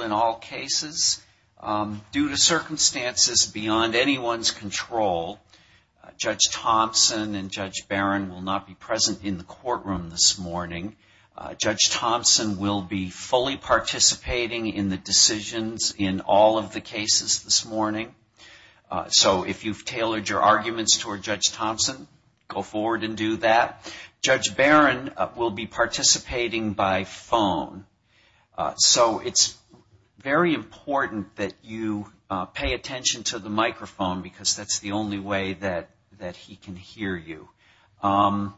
In all cases, due to circumstances beyond anyone's control, Judge Thompson and Judge Barron will not be present in the courtroom this morning. Judge Thompson will be fully participating in the decisions in all of the cases this morning. So if you've tailored your arguments toward Judge Thompson, go forward and do that. Judge Barron will be participating by phone. So it's very important that you pay attention to the microphone because that's the only way that he can hear you. What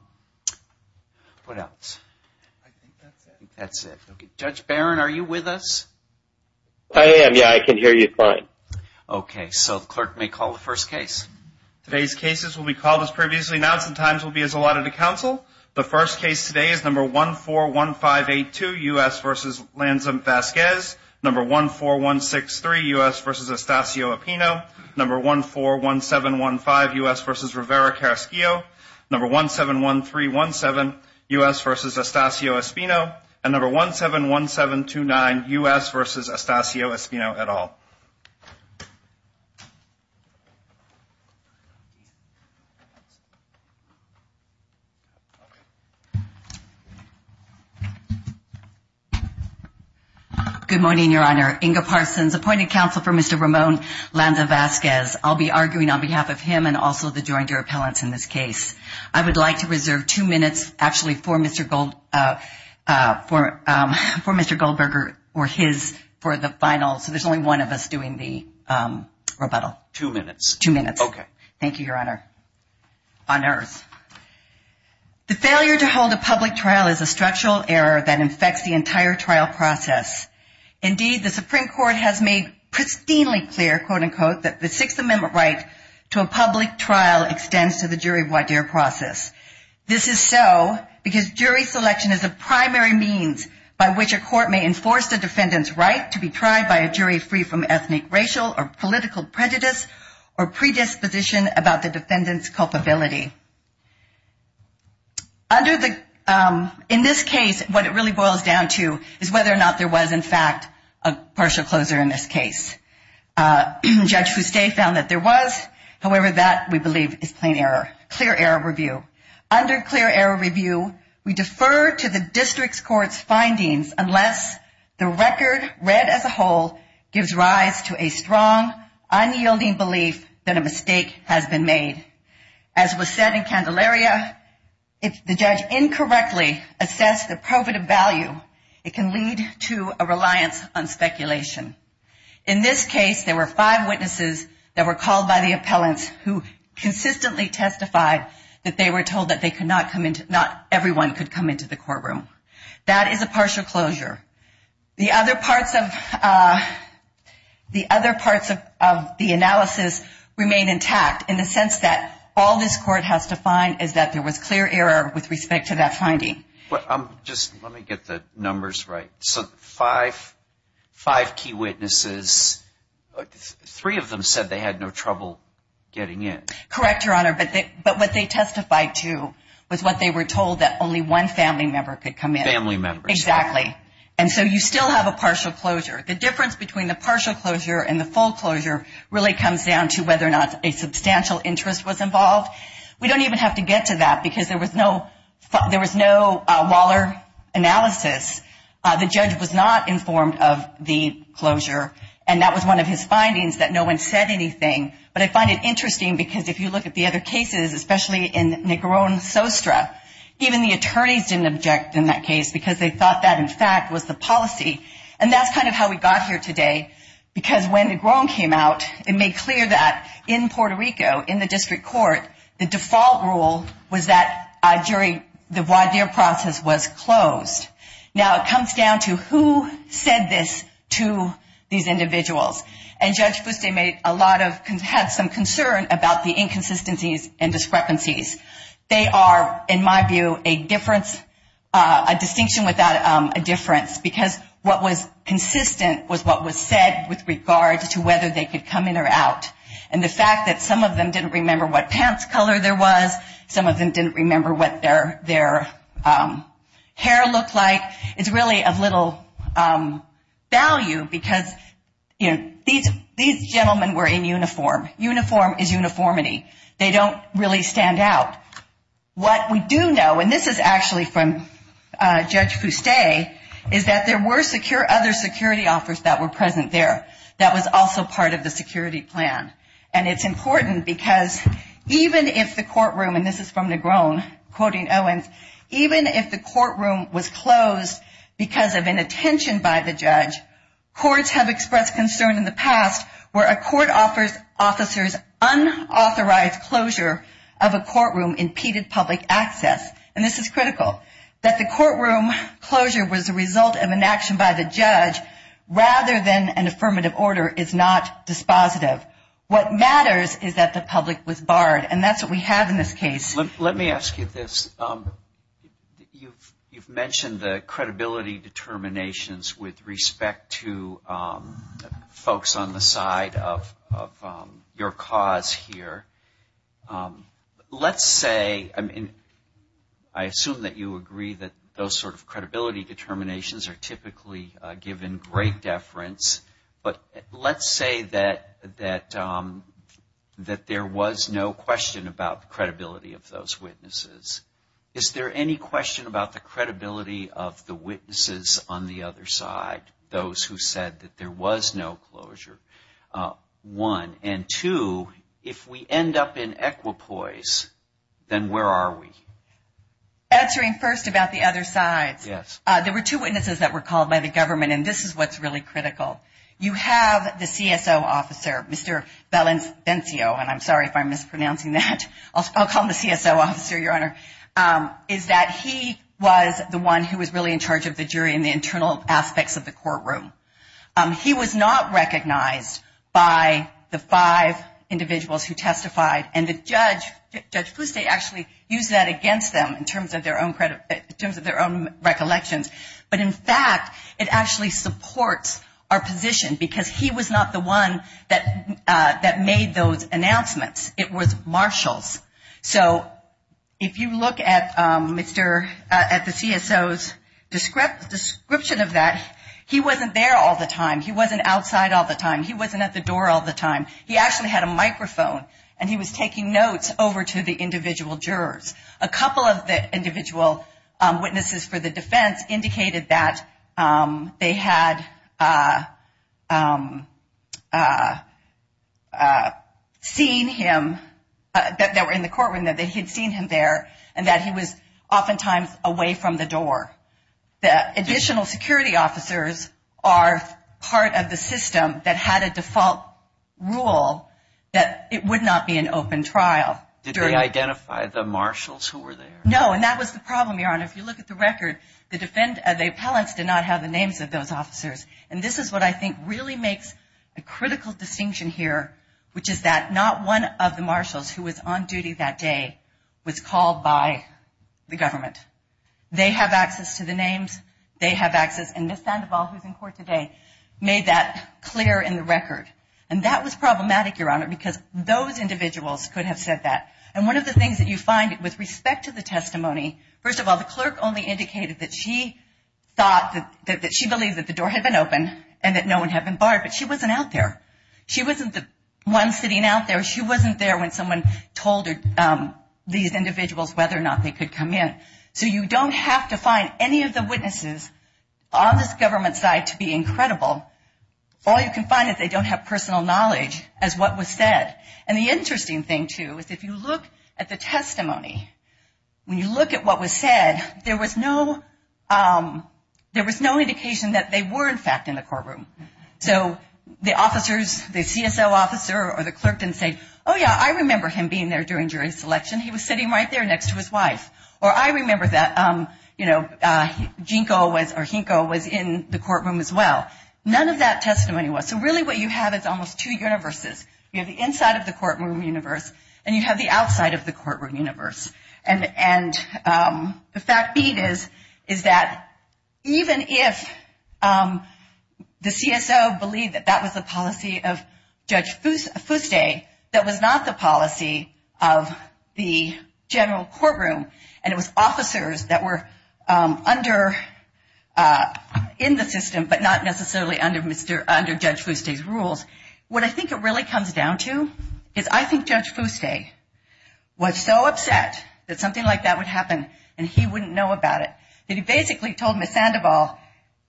else? I think that's it. That's it. Judge Barron, are you with us? I am, yeah. I can hear you fine. Okay. So the clerk may call the first case. Today's cases will be called as previously announced. The times will be as allotted to counsel. The first case today is No. 141582, U.S. v. Lanza-Vazquez. No. 14163, U.S. v. Estacio-Espino. No. 141715, U.S. v. Rivera-Casquillo. No. 171317, U.S. v. Estacio-Espino. And No. 171729, U.S. v. Estacio-Espino et al. Good morning, Your Honor. Inga Parsons, appointed counsel for Mr. Ramon Lanza-Vazquez. I'll be arguing on behalf of him and also the joined-er appellants in this case. I would like to reserve two minutes, actually, for Mr. Goldberger or his for the final. So there's only one of us doing the rebuttal. Two minutes. Two minutes. Okay. Thank you, Your Honor. On earth. The failure to hold a public trial is a structural error that infects the entire trial process. Indeed, the Supreme Court has made pristinely clear, quote-unquote, that the Sixth Amendment right to a public trial extends to the jury voir dire process. This is so because jury selection is a primary means by which a court may enforce the defendant's right to be tried by a jury free from ethnic, racial, or political prejudice or predisposition about the defendant's culpability. In this case, what it really boils down to is whether or not there was, in fact, a partial closure in this case. Judge Fuste found that there was. However, that, we believe, is plain error. Clear error review. Under clear error review, we defer to the district court's findings unless the record read as a whole gives rise to a strong, unyielding belief that a mistake has been made. As was said in Candelaria, if the judge incorrectly assessed the probative value, it can lead to a reliance on speculation. In this case, there were five witnesses that were called by the appellant who consistently testified that they were told that not everyone could come into the courtroom. That is a partial closure. The other parts of the analysis remain intact in the sense that all this court has to find is that there was clear error with respect to that finding. Let me get the numbers right. Five key witnesses. Three of them said they had no trouble getting in. Correct, Your Honor, but what they testified to was what they were told, that only one family member could come in. Family members. Exactly. And so you still have a partial closure. The difference between the partial closure and the full closure really comes down to whether or not a substantial interest was involved. We don't even have to get to that because there was no Waller analysis. The judge was not informed of the closure, and that was one of his findings, that no one said anything. But I find it interesting because if you look at the other cases, especially in Negron-Sostra, even the attorneys didn't object in that case because they thought that, in fact, was the policy. And that's kind of how we got here today because when Negron came out, it made clear that in Puerto Rico, in the district court, the default rule was that during the voir dire process was closed. Now, it comes down to who said this to these individuals. And Judge Buste had some concern about the inconsistencies and discrepancies. They are, in my view, a distinction without a difference because what was consistent was what was said with regard to whether they could come in or out. And the fact that some of them didn't remember what pants color there was, some of them didn't remember what their hair looked like, it's really a little value because these gentlemen were in uniform. Uniform is uniformity. They don't really stand out. What we do know, and this is actually from Judge Buste, is that there were other security officers that were present there that was also part of the security plan. And it's important because even if the courtroom, and this is from Negron, quoting Owens, even if the courtroom was closed because of inattention by the judge, courts have expressed concern in the past where a court officer's unauthorized closure of a courtroom impeded public access. And this is critical, that the courtroom closure was the result of inaction by the judge rather than an affirmative order is not dispositive. What matters is that the public was barred, and that's what we have in this case. Let me ask you this. You've mentioned the credibility determinations with respect to folks on the side of your cause here. Let's say, I mean, I assume that you agree that those sort of credibility determinations are typically given great deference, but let's say that there was no question about the credibility of those witnesses. Is there any question about the credibility of the witnesses on the other side, those who said that there was no closure, one? And two, if we end up in equipoise, then where are we? Answering first about the other side. Yes. There were two witnesses that were called by the government, and this is what's really critical. You have the CSO officer, Mr. Feliciencio, and I'm sorry if I'm mispronouncing that. I'll call him the CSO officer, Your Honor, is that he was the one who was really in charge of the jury in the internal aspects of the courtroom. He was not recognized by the five individuals who testified, and the judge, Judge Poussey, actually used that against them in terms of their own recollections. But, in fact, it actually supports our position because he was not the one that made those announcements. It was Marshall. So if you look at the CSO's description of that, he wasn't there all the time. He wasn't outside all the time. He wasn't at the door all the time. He actually had a microphone, and he was taking notes over to the individual jurors. A couple of the individual witnesses for the defense indicated that they had seen him, that they were in the courtroom, that they had seen him there, and that he was oftentimes away from the door. Additional security officers are part of the system that had a default rule that it would not be an open trial. Did they identify the marshals who were there? No, and that was the problem, Your Honor. If you look at the record, the defense appellants did not have the names of those officers, and this is what I think really makes a critical distinction here, which is that not one of the marshals who was on duty that day was called by the government. They have access to the names. They have access. And Ms. Sandoval, who is in court today, made that clear in the record. And that was problematic, Your Honor, because those individuals could have said that. And one of the things that you find with respect to the testimony, first of all, the clerk only indicated that she thought that she believed that the door had been opened and that no one had been barred, but she wasn't out there. She wasn't the one sitting out there. She wasn't there when someone told these individuals whether or not they could come in. So you don't have to find any of the witnesses on this government side to be incredible. All you can find is they don't have personal knowledge as what was said. And the interesting thing, too, is if you look at the testimony, when you look at what was said, there was no indication that they were, in fact, in the courtroom. So the officers, the CSO officer or the clerk didn't say, oh, yeah, I remember him being there during jury selection. He was sitting right there next to his wife. Or I remember that, you know, Jinko was in the courtroom as well. None of that testimony was. So really what you have is almost two universes. You have the inside of the courtroom universe and you have the outside of the courtroom universe. And the fact is is that even if the CSO believed that that was the policy of Judge Fouste, that was not the policy of the general courtroom and it was officers that were under, in the system, but not necessarily under Judge Fouste's rules, what I think it really comes down to, is I think Judge Fouste was so upset that something like that would happen and he wouldn't know about it that he basically told Ms. Sandoval,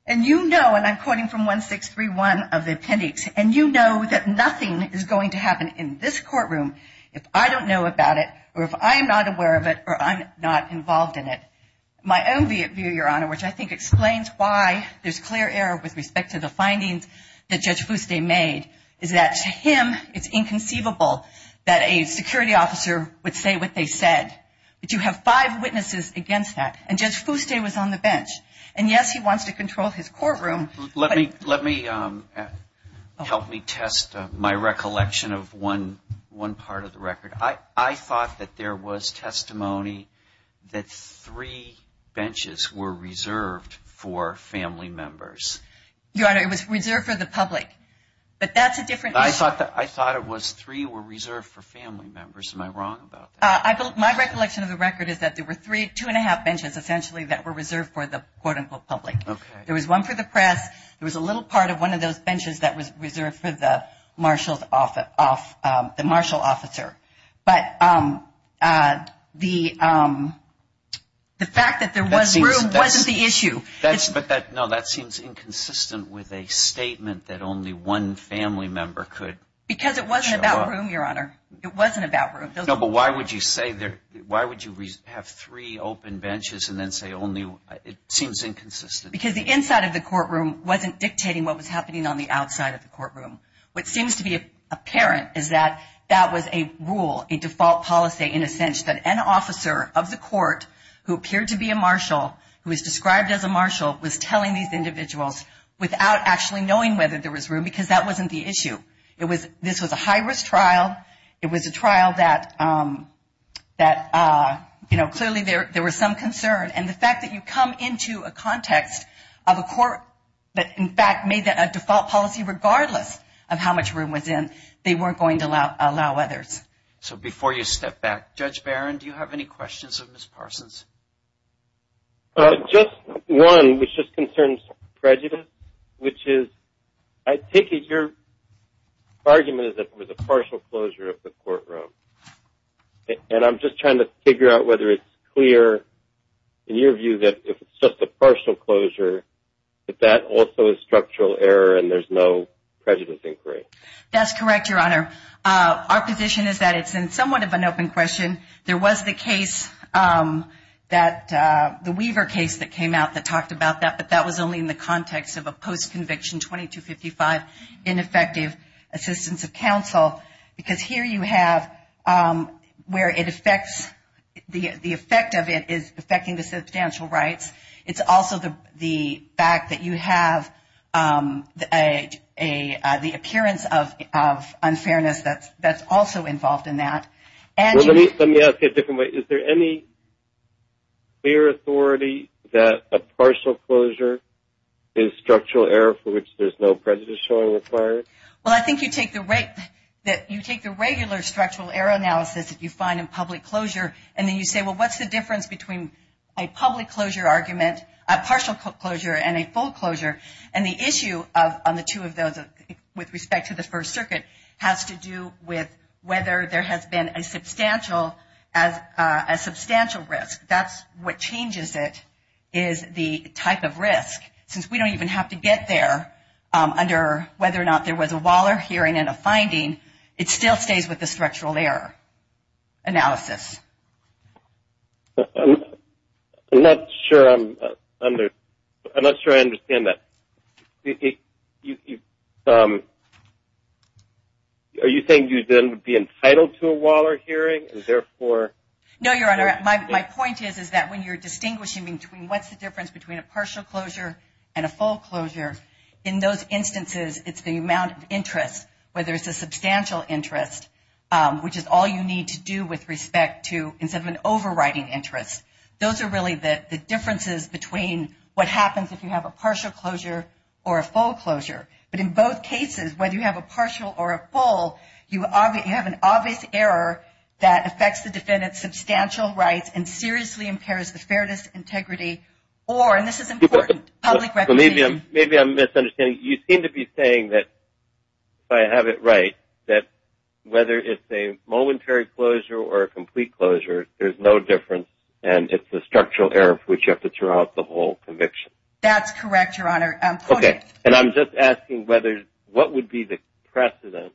and you know, and I'm quoting from 1631 of the appendix, and you know that nothing is going to happen in this courtroom if I don't know about it or if I'm not aware of it or I'm not involved in it. My own view, Your Honor, which I think explains why there's clear error with respect to the findings that Judge Fouste made is that to him it's inconceivable that a security officer would say what they said. You have five witnesses against that and Judge Fouste was on the bench. And yes, he wants to control his courtroom. Let me, help me test my recollection of one part of the record. I thought that there was testimony that three benches were reserved for family members. Your Honor, it was reserved for the public, but that's a different issue. I thought it was three were reserved for family members. Am I wrong about that? My recollection of the record is that there were three, two and a half benches essentially that were reserved for the quote-unquote public. There was one for the press. There was a little part of one of those benches that was reserved for the marshal officer. But the fact that there was room wasn't the issue. No, that seems inconsistent with a statement that only one family member could. Because it wasn't about room, Your Honor. It wasn't about room. No, but why would you have three open benches and then say only one? It seems inconsistent. Because the inside of the courtroom wasn't dictating what was happening on the outside of the courtroom. What seems to be apparent is that that was a rule, a default policy in a sense, that an officer of the court who appeared to be a marshal, who is described as a marshal, was telling these individuals without actually knowing whether there was room because that wasn't the issue. This was a high-risk trial. It was a trial that clearly there was some concern. And the fact that you come into a context of a court that, in fact, made a default policy regardless of how much room was in, they weren't going to allow others. So before you step back, Judge Barron, do you have any questions of Ms. Parsons? Just one, which just concerns prejudice, which is I take it your argument is that it was a partial closure of the courtroom. And I'm just trying to figure out whether it's clear in your view that if it's just a partial closure, that that also is structural error and there's no prejudice inquiry. That's correct, Your Honor. Our position is that it's somewhat of an open question. There was the case, the Weaver case that came out that talked about that, but that was only in the context of a post-conviction 2255 ineffective assistance of counsel. Because here you have where it affects, the effect of it is affecting the substantial rights. It's also the fact that you have the appearance of unfairness that's also involved in that. Let me ask it a different way. Is there any clear authority that a partial closure is structural error for which there's no prejudice inquiry? Well, I think you take the regular structural error analysis that you find in public closure, and then you say, well, what's the difference between a public closure argument, a partial closure, and a full closure? And the issue on the two of those with respect to the First Circuit has to do with whether there has been a substantial risk. That's what changes it is the type of risk. Since we don't even have to get there under whether or not there was a Waller hearing and a finding, it still stays with the structural error analysis. I'm not sure I understand that. Are you saying you then would be entitled to a Waller hearing? No, Your Honor. My point is that when you're distinguishing between what's the difference between a partial closure and a full closure, in those instances it's the amount of interest, whether it's a substantial interest, which is all you need to do with respect to an overriding interest. Those are really the differences between what happens if you have a partial closure or a full closure. But in both cases, whether you have a partial or a full, you have an obvious error that affects the defendant's substantial rights and seriously impairs his fairness, integrity, or, and this is important, public recognition. Maybe I'm misunderstanding. You seem to be saying that if I have it right, that whether it's a momentary closure or a complete closure, there's no difference and it's the structural error for which you have to throw out the whole conviction. That's correct, Your Honor. Okay. And I'm just asking whether, what would be the precedent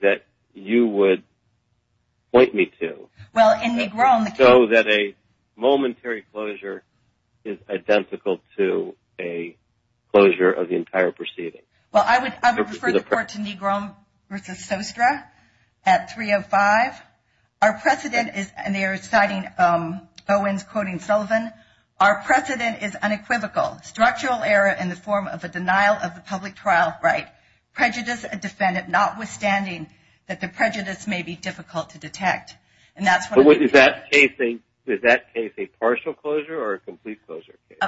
that you would point me to so that a momentary closure is identical to a closure of the entire proceeding? Well, I would refer the court to Negron v. Sostra at 305. Our precedent is, and they are citing Owens quoting Sullivan, our precedent is unequivocal. Structural error in the form of the denial of the public trial's right prejudice a defendant notwithstanding that the prejudice may be difficult to detect. And that's what I'm saying. Is that case a partial closure or a complete closure case?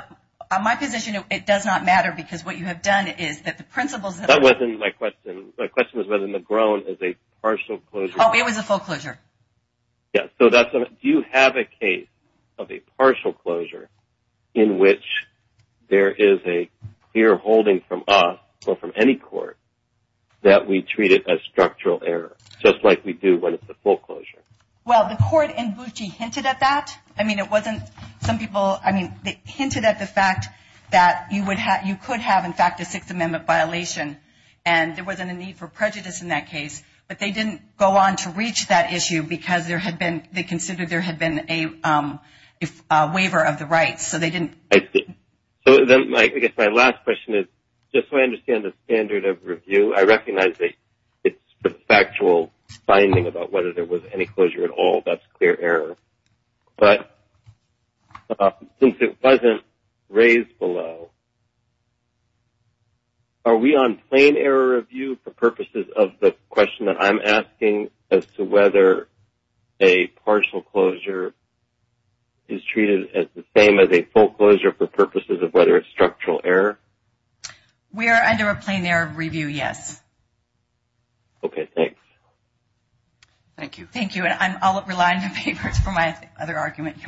On my position, it does not matter because what you have done is that the principles of the- That wasn't my question. My question was whether Negron is a partial closure. Oh, it was a full closure. Yeah, so that's a- Do you have a case of a partial closure in which there is a clear holding from us or from any court that we treat it as structural error just like we do when it's a full closure? Well, the court in Bucci hinted at that. I mean, it wasn't some people- I mean, they hinted at the fact that you could have, in fact, a Sixth Amendment violation and there wasn't a need for prejudice in that case, but they didn't go on to reach that issue because they considered there had been a waiver of the rights. So they didn't- I see. So then I guess my last question is, just so I understand the standard of review, I recognize that it's factual finding about whether there was any closure at all. That's clear error. But since it wasn't raised below, are we on plain error review for purposes of the question that I'm asking as to whether a partial closure is treated as the same as a full closure for purposes of whether it's structural error? We are under a plain error review, yes. Okay, thanks. Thank you. Thank you. I'll rely on the papers for my other argument.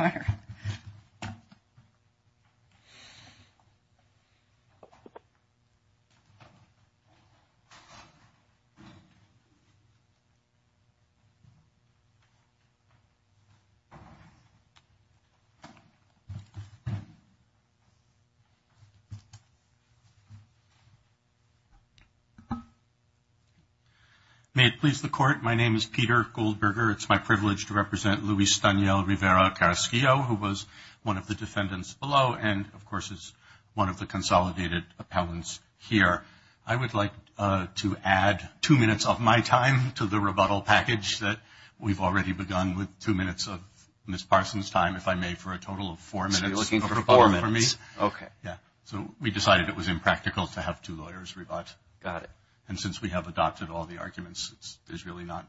My name is Peter Goldberger. It's my privilege to represent Luis Daniel Rivera Carrasquillo, who was one of the defendants below and, of course, is one of the consolidated appellants here. I would like to add two minutes of my time to the rebuttal package that we've already begun with two minutes of Ms. Parsons' time, if I may, for a total of four minutes of rebuttal for me. So you're looking for four minutes. Okay. Yeah. So we decided it was impractical to have two lawyers rebut. Got it. And since we have adopted all the arguments, it's really not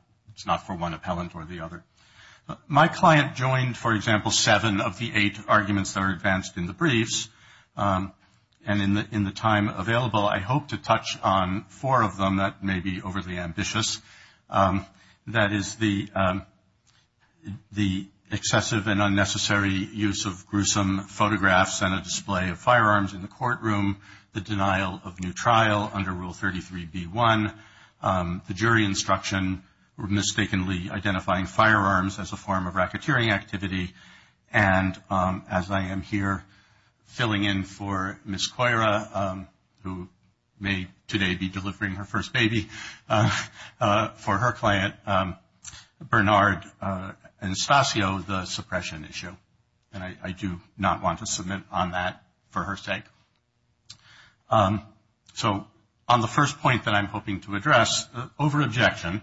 for one appellant or the other. My client joined, for example, seven of the eight arguments that are advanced in the briefs. And in the time available, I hope to touch on four of them that may be overly ambitious. That is the excessive and unnecessary use of gruesome photographs and a display of firearms in the courtroom, the denial of new trial under Rule 33b-1, the jury instruction, or mistakenly identifying firearms as a form of racketeering activity, and as I am here filling in for Ms. Cueira, who may today be delivering her first baby, for her client, Bernard Anastasio, the suppression issue. And I do not want to submit on that for her sake. So on the first point that I'm hoping to address, over objection,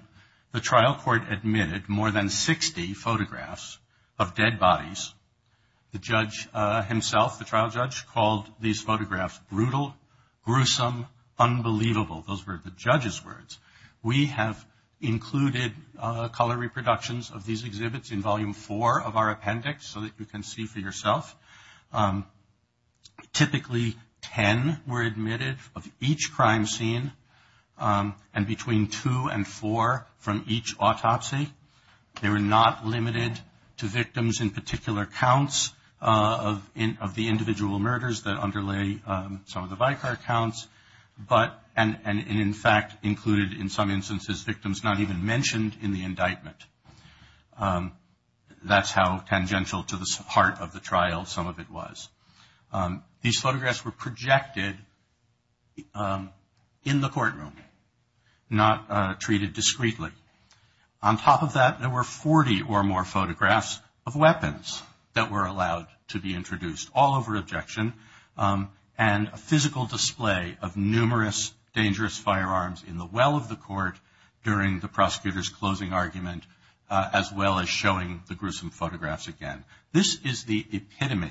the trial court admitted more than 60 photographs of dead bodies. The judge himself, the trial judge, called these photographs brutal, gruesome, unbelievable. Those were the judge's words. We have included color reproductions of these exhibits in Volume 4 of our appendix so that you can see for yourself. Typically, ten were admitted of each crime scene and between two and four from each autopsy. They were not limited to victims in particular counts of the individual murders that underlay some of the Vicar counts, and in fact included in some instances victims not even mentioned in the indictment. That's how tangential to the heart of the trial some of it was. These photographs were projected in the courtroom, not treated discreetly. On top of that, there were 40 or more photographs of weapons that were allowed to be introduced, all over objection, and a physical display of numerous dangerous firearms in the well of the court during the prosecutor's closing argument, as well as showing the gruesome photographs again. This is the epitome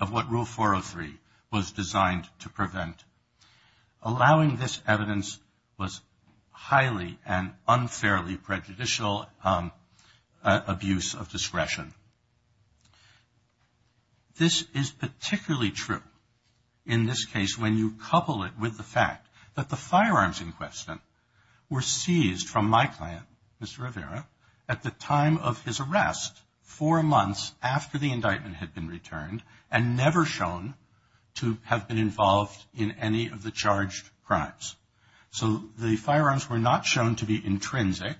of what Rule 403 was designed to prevent. Allowing this evidence was highly and unfairly prejudicial abuse of discretion. This is particularly true in this case when you couple it with the fact that the firearms in question were seized from my client, Mr. Rivera, at the time of his arrest, four months after the indictment had been returned, and never shown to have been involved in any of the charged crimes. So the firearms were not shown to be intrinsic,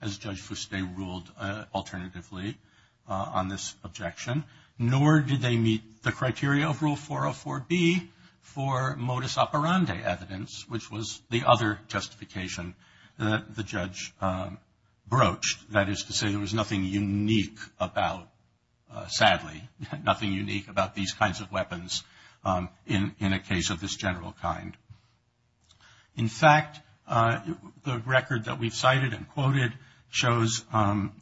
as Judge Fuste ruled alternatively on this objection, nor did they meet the criteria of Rule 404B for modus operandi evidence, which was the other justification that the judge broached, that is to say there was nothing unique about, sadly, nothing unique about these kinds of weapons in a case of this general kind. In fact, the record that we've cited and quoted shows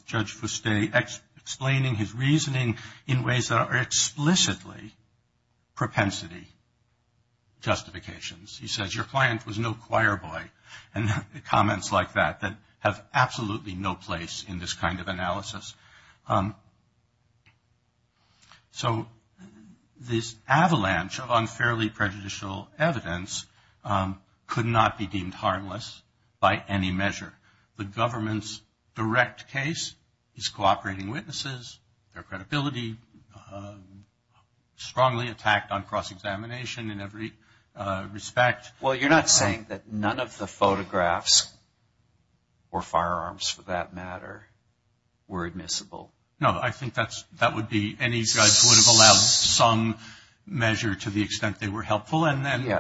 Judge Fuste explaining his reasoning in ways that are explicitly propensity justifications. He says, your client was no choir boy, and comments like that that have absolutely no place in this kind of analysis. So this avalanche of unfairly prejudicial evidence could not be deemed harmless by any measure. The government's direct case is cooperating witnesses. Their credibility strongly attacked on cross-examination in every respect. Well, you're not saying that none of the photographs, or firearms for that matter, were admissible? No, I think that would be any judge would have allowed some measure to the extent they were helpful.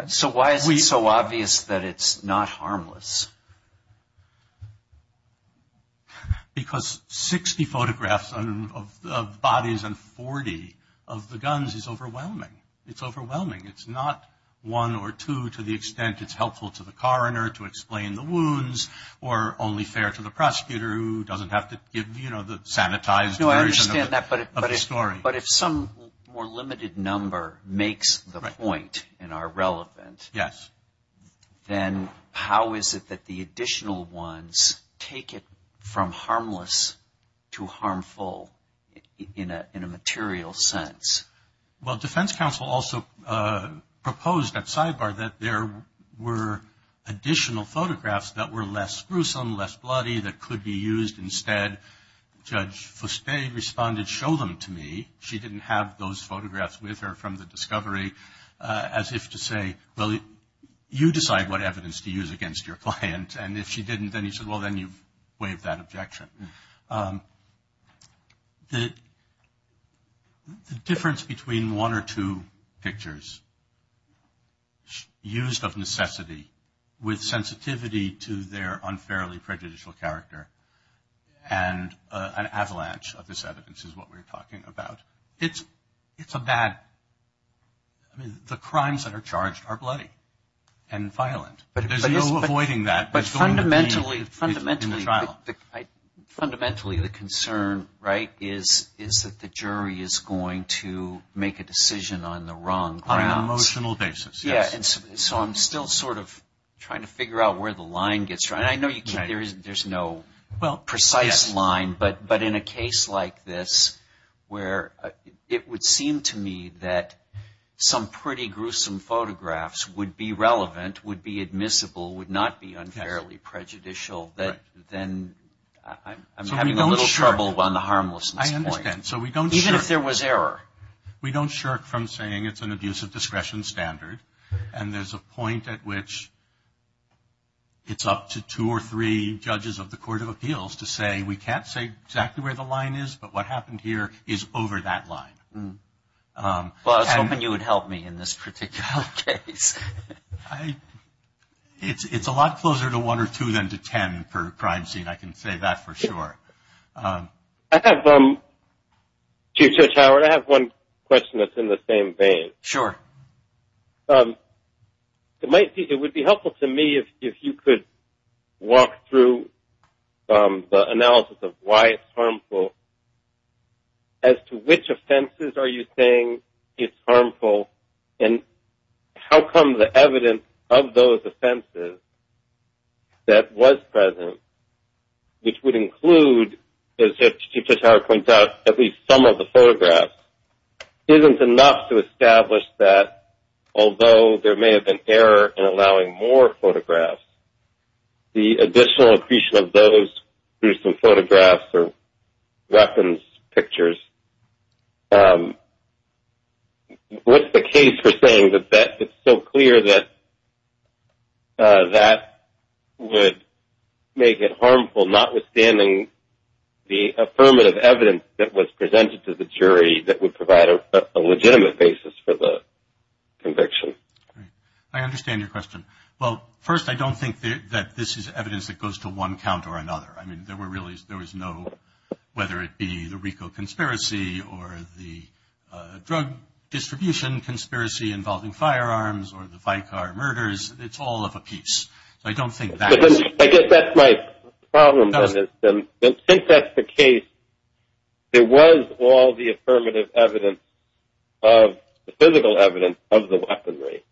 So why is it so obvious that it's not harmless? Because 60 photographs of bodies and 40 of the guns is overwhelming. It's overwhelming. It's not one or two to the extent it's helpful to the coroner to explain the wounds, or only fair to the prosecutor who doesn't have to give, you know, the sanitized version of the story. But if some more limited number makes the point and are relevant, then how is it that the additional ones take it from harmless to harmful in a material sense? Well, defense counsel also proposed at sidebar that there were additional photographs that were less gruesome, less bloody, that could be used instead. And Judge Fuspe responded, show them to me. She didn't have those photographs with her from the discovery, as if to say, well, you decide what evidence to use against your client. And if she didn't, then he said, well, then you waived that objection. The difference between one or two pictures used of necessity with sensitivity to their unfairly prejudicial character and an avalanche of this evidence is what we're talking about. It's a bad – I mean, the crimes that are charged are bloody and violent. There's no avoiding that. But fundamentally the concern, right, is that the jury is going to make a decision on the wrong grounds. On an emotional basis, yes. So I'm still sort of trying to figure out where the line gets drawn. I know there's no precise line, but in a case like this where it would seem to me that some pretty gruesome photographs would be relevant, would be admissible, would not be unfairly prejudicial, then I'm having a little trouble on the harmless. I understand. Even if there was error. We don't shirk from saying it's an abuse of discretion standard. And there's a point at which it's up to two or three judges of the Court of Appeals to say we can't say exactly where the line is, but what happened here is over that line. Well, I was hoping you would help me in this particular case. It's a lot closer to one or two than to ten per crime scene, I can say that for sure. Chief Judge Howard, I have one question that's in the same vein. Sure. It would be helpful to me if you could walk through the analysis of why it's harmful, as to which offenses are you saying it's harmful, and how come the evidence of those offenses that was present, which would include, as Chief Judge Howard points out, at least some of the photographs, isn't enough to establish that although there may have been error in allowing more photographs, the additional accretion of those through some photographs or weapons pictures, what's the case for saying that it's so clear that that would make it harmful, notwithstanding the affirmative evidence that was presented to the jury that would provide a legitimate basis for the conviction? I understand your question. Well, first, I don't think that this is evidence that goes to one count or another. I mean, there was no, whether it be the RICO conspiracy or the drug distribution conspiracy involving firearms, or the bike car murders, it's all of a piece. I don't think that's it. I guess that's my problem with it. Since that's the case, it was all the affirmative evidence of the physical evidence of the weaponry.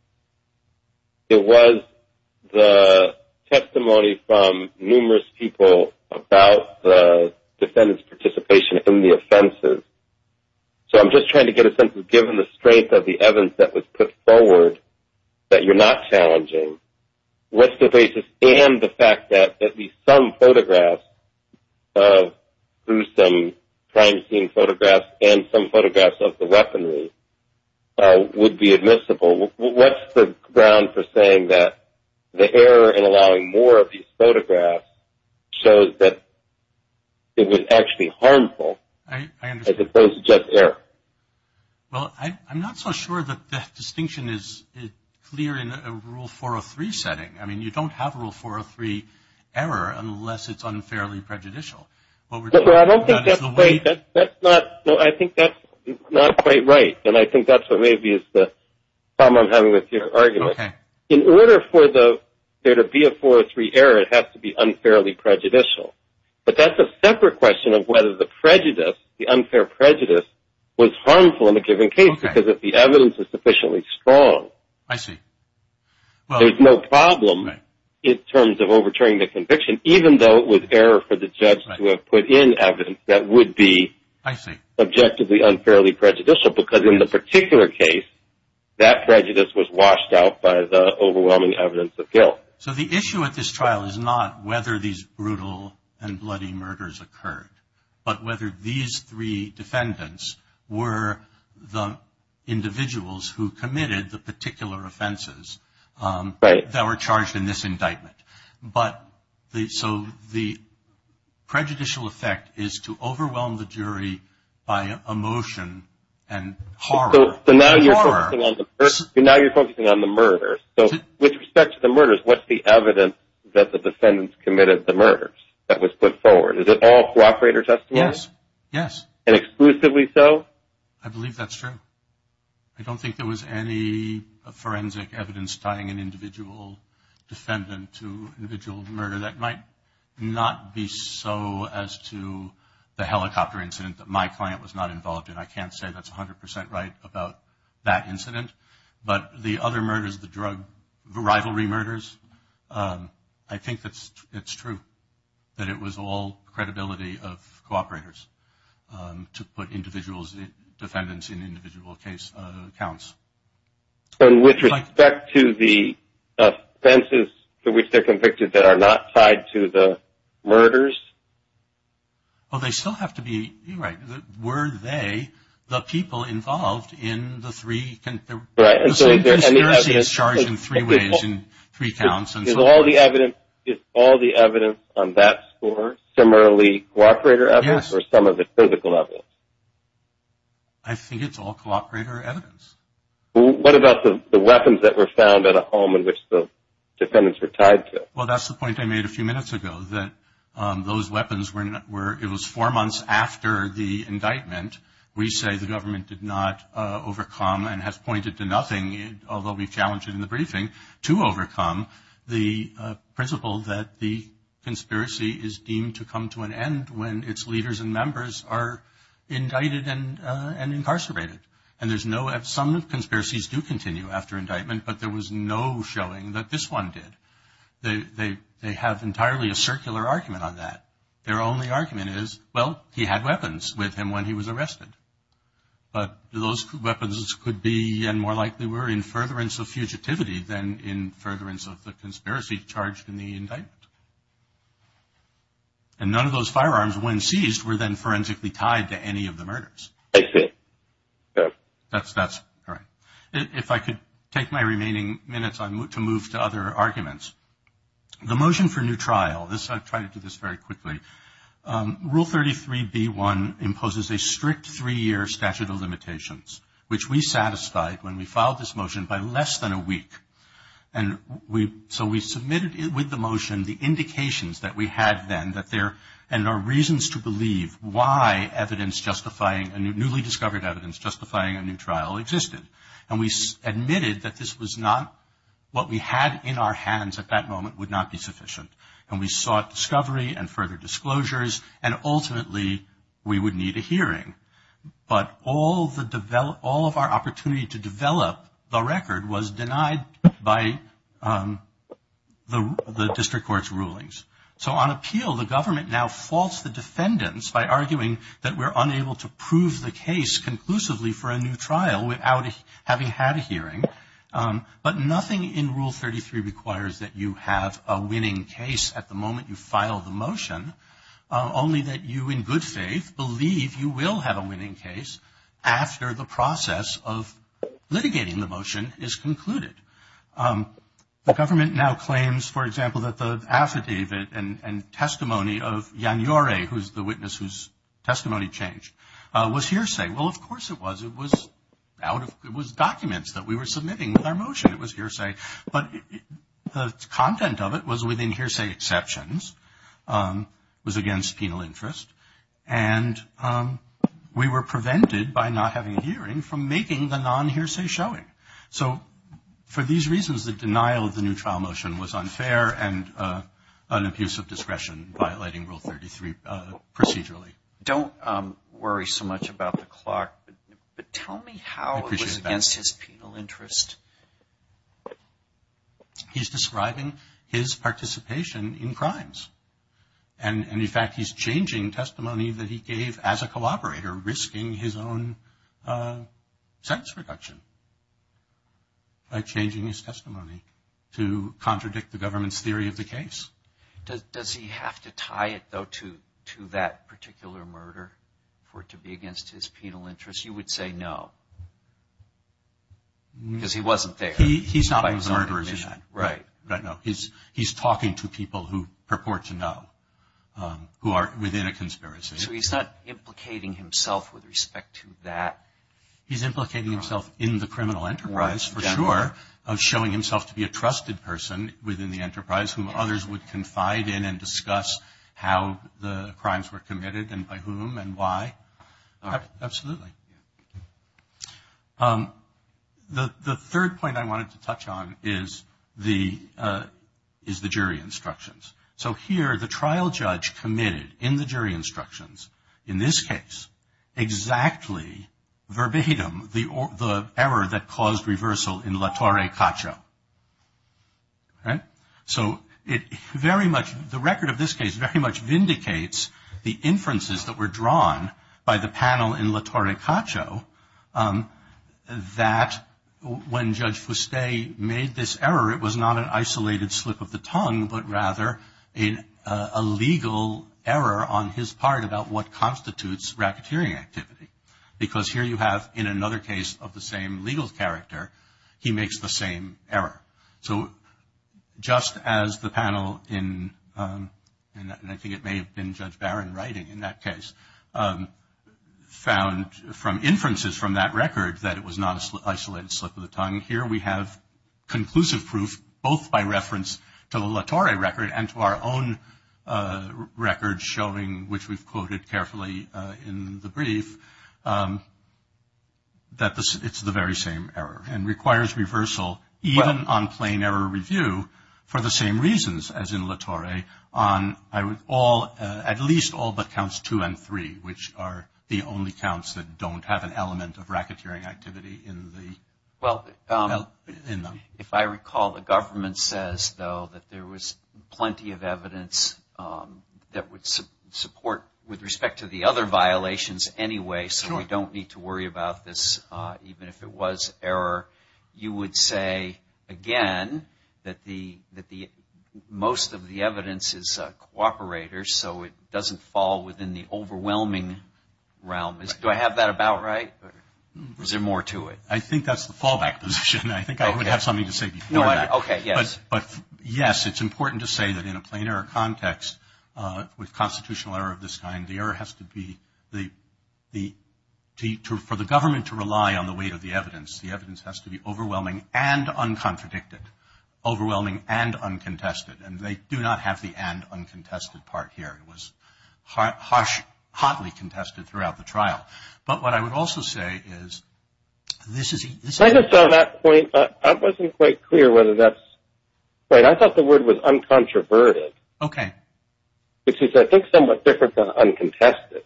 It was the testimony from numerous people about the defendant's participation in the offenses. So I'm just trying to get a sense of given the strength of the evidence that was put forward that you're not challenging, what's the basis and the fact that at least some photographs, through some crime scene photographs and some photographs of the weaponry, would be admissible? What's the ground for saying that the error in allowing more of these photographs shows that it was actually harmful as opposed to just error? Well, I'm not so sure that that distinction is clear in a Rule 403 setting. I mean, you don't have a Rule 403 error unless it's unfairly prejudicial. I don't think that's right. I think that's not quite right, and I think that's what may be the problem I'm having with your argument. In order for there to be a 403 error, it has to be unfairly prejudicial. But that's a separate question of whether the prejudice, the unfair prejudice, was harmful in a given case, because if the evidence is sufficiently strong, there's no problem in terms of overturning the conviction, even though it was error for the judge to have put in evidence that would be objectively unfairly prejudicial, because in the particular case, that prejudice was washed out by the overwhelming evidence of guilt. So the issue with this trial is not whether these brutal and bloody murders occurred, but whether these three defendants were the individuals who committed the particular offenses that were charged in this indictment. So the prejudicial effect is to overwhelm the jury by emotion and horror. So now you're focusing on the murders. So with respect to the murders, what's the evidence that the defendants committed the murders that was put forward? Is it all cooperator testimony? Yes, yes. And exclusively so? I believe that's true. I don't think there was any forensic evidence tying an individual defendant to an individual murder. That might not be so as to the helicopter incident that my client was not involved in. I can't say that's 100 percent right about that incident. But the other murders, the drug rivalry murders, I think it's true that it was all credibility of cooperators to put individual defendants in individual case accounts. And with respect to the offenses to which they're convicted that are not tied to the murders? Well, they still have to be, you're right, were they the people involved in the three? Right. So they're charged in three ways, in three counts. Is all the evidence on that score similarly cooperator evidence or some of it physical evidence? I think it's all cooperator evidence. What about the weapons that were found at a home in which the defendants were tied to? Well, that's the point I made a few minutes ago, that those weapons were, it was four months after the indictment. We say the government did not overcome and has pointed to nothing, although we challenged it in the briefing, to overcome the principle that the conspiracy is deemed to come to an end when its leaders and members are indicted and incarcerated. And there's no, some conspiracies do continue after indictment, but there was no showing that this one did. They have entirely a circular argument on that. Their only argument is, well, he had weapons with him when he was arrested. But those weapons could be, and more likely were, in furtherance of fugitivity than in furtherance of the conspiracy charged in the indictment. And none of those firearms, when seized, were then forensically tied to any of the murders. That's correct. If I could take my remaining minutes to move to other arguments. The motion for new trial, I'll try to do this very quickly. Rule 33B1 imposes a strict three-year statute of limitations, which we satisfied when we filed this motion by less than a week. And so we submitted with the motion the indications that we had then, and our reasons to believe why evidence justifying, newly discovered evidence justifying a new trial existed. And we admitted that this was not, what we had in our hands at that moment would not be sufficient. And we sought discovery and further disclosures, and ultimately we would need a hearing. But all of our opportunity to develop the record was denied by the district court's rulings. So on appeal, the government now faults the defendants by arguing that we're unable to prove the case conclusively for a new trial without having had a hearing. But nothing in Rule 33 requires that you have a winning case at the moment you file the motion, only that you, in good faith, believe you will have a winning case after the process of litigating the motion is concluded. The government now claims, for example, that the affidavit and testimony of Yang Yore, who is the witness whose testimony changed, was hearsay. Well, of course it was. It was documented that we were submitting with our motion. It was hearsay. But the content of it was within hearsay exceptions. It was against penal interest. And we were prevented by not having a hearing from making the non-hearsay showing. So for these reasons, the denial of the new trial motion was unfair and an abuse of discretion violating Rule 33 procedurally. Don't worry so much about the Clark, but tell me how it was against his penal interest. And, in fact, he's changing testimony that he gave as a collaborator, risking his own sex reduction by changing his testimony to contradict the government's theory of the case. Does he have to tie it, though, to that particular murder for it to be against his penal interest? You would say no, because he wasn't there. He's not a murderer, is he? Right. He's talking to people who purport to know, who are within a conspiracy. So he's not implicating himself with respect to that? He's implicating himself in the criminal enterprise, for sure, showing himself to be a trusted person within the enterprise who others would confide in and discuss how the crimes were committed and by whom and why. Absolutely. The third point I wanted to touch on is the jury instructions. So here the trial judge committed in the jury instructions, in this case, exactly verbatim the error that caused reversal in La Torre Caccia. Right? So the record of this case very much vindicates the inferences that were drawn by the panel in La Torre Caccia that when Judge Fuste made this error, it was not an isolated slip of the tongue, but rather a legal error on his part about what constitutes rapeteering activity, because here you have, in another case of the same legal character, he makes the same error. So just as the panel in, I think it may have been Judge Barron writing in that case, found from inferences from that record that it was not an isolated slip of the tongue, here we have conclusive proof both by reference to the La Torre record and to our own record showing, which we've quoted carefully in the brief, that it's the very same error and requires reversal even on plain error review for the same reasons as in La Torre, on at least all but counts two and three, which are the only counts that don't have an element of rapeteering activity in them. If I recall, the government says, though, that there was plenty of evidence that would support, with respect to the other violations anyway, so we don't need to worry about this, even if it was error. You would say, again, that most of the evidence is cooperators, so it doesn't fall within the overwhelming realm. Do I have that about right, or is there more to it? I think that's the fallback position. I think I would have something to say before that. But, yes, it's important to say that in a plain error context with constitutional error of this kind, the error has to be, for the government to rely on the weight of the evidence, the evidence has to be overwhelming and uncontradicted, overwhelming and uncontested, and they do not have the and uncontested part here. It was hotly contested throughout the trial. But what I would also say is this is... I just saw that point. I wasn't quite clear whether that's right. I thought the word was uncontroverted, which is, I think, somewhat different than uncontested.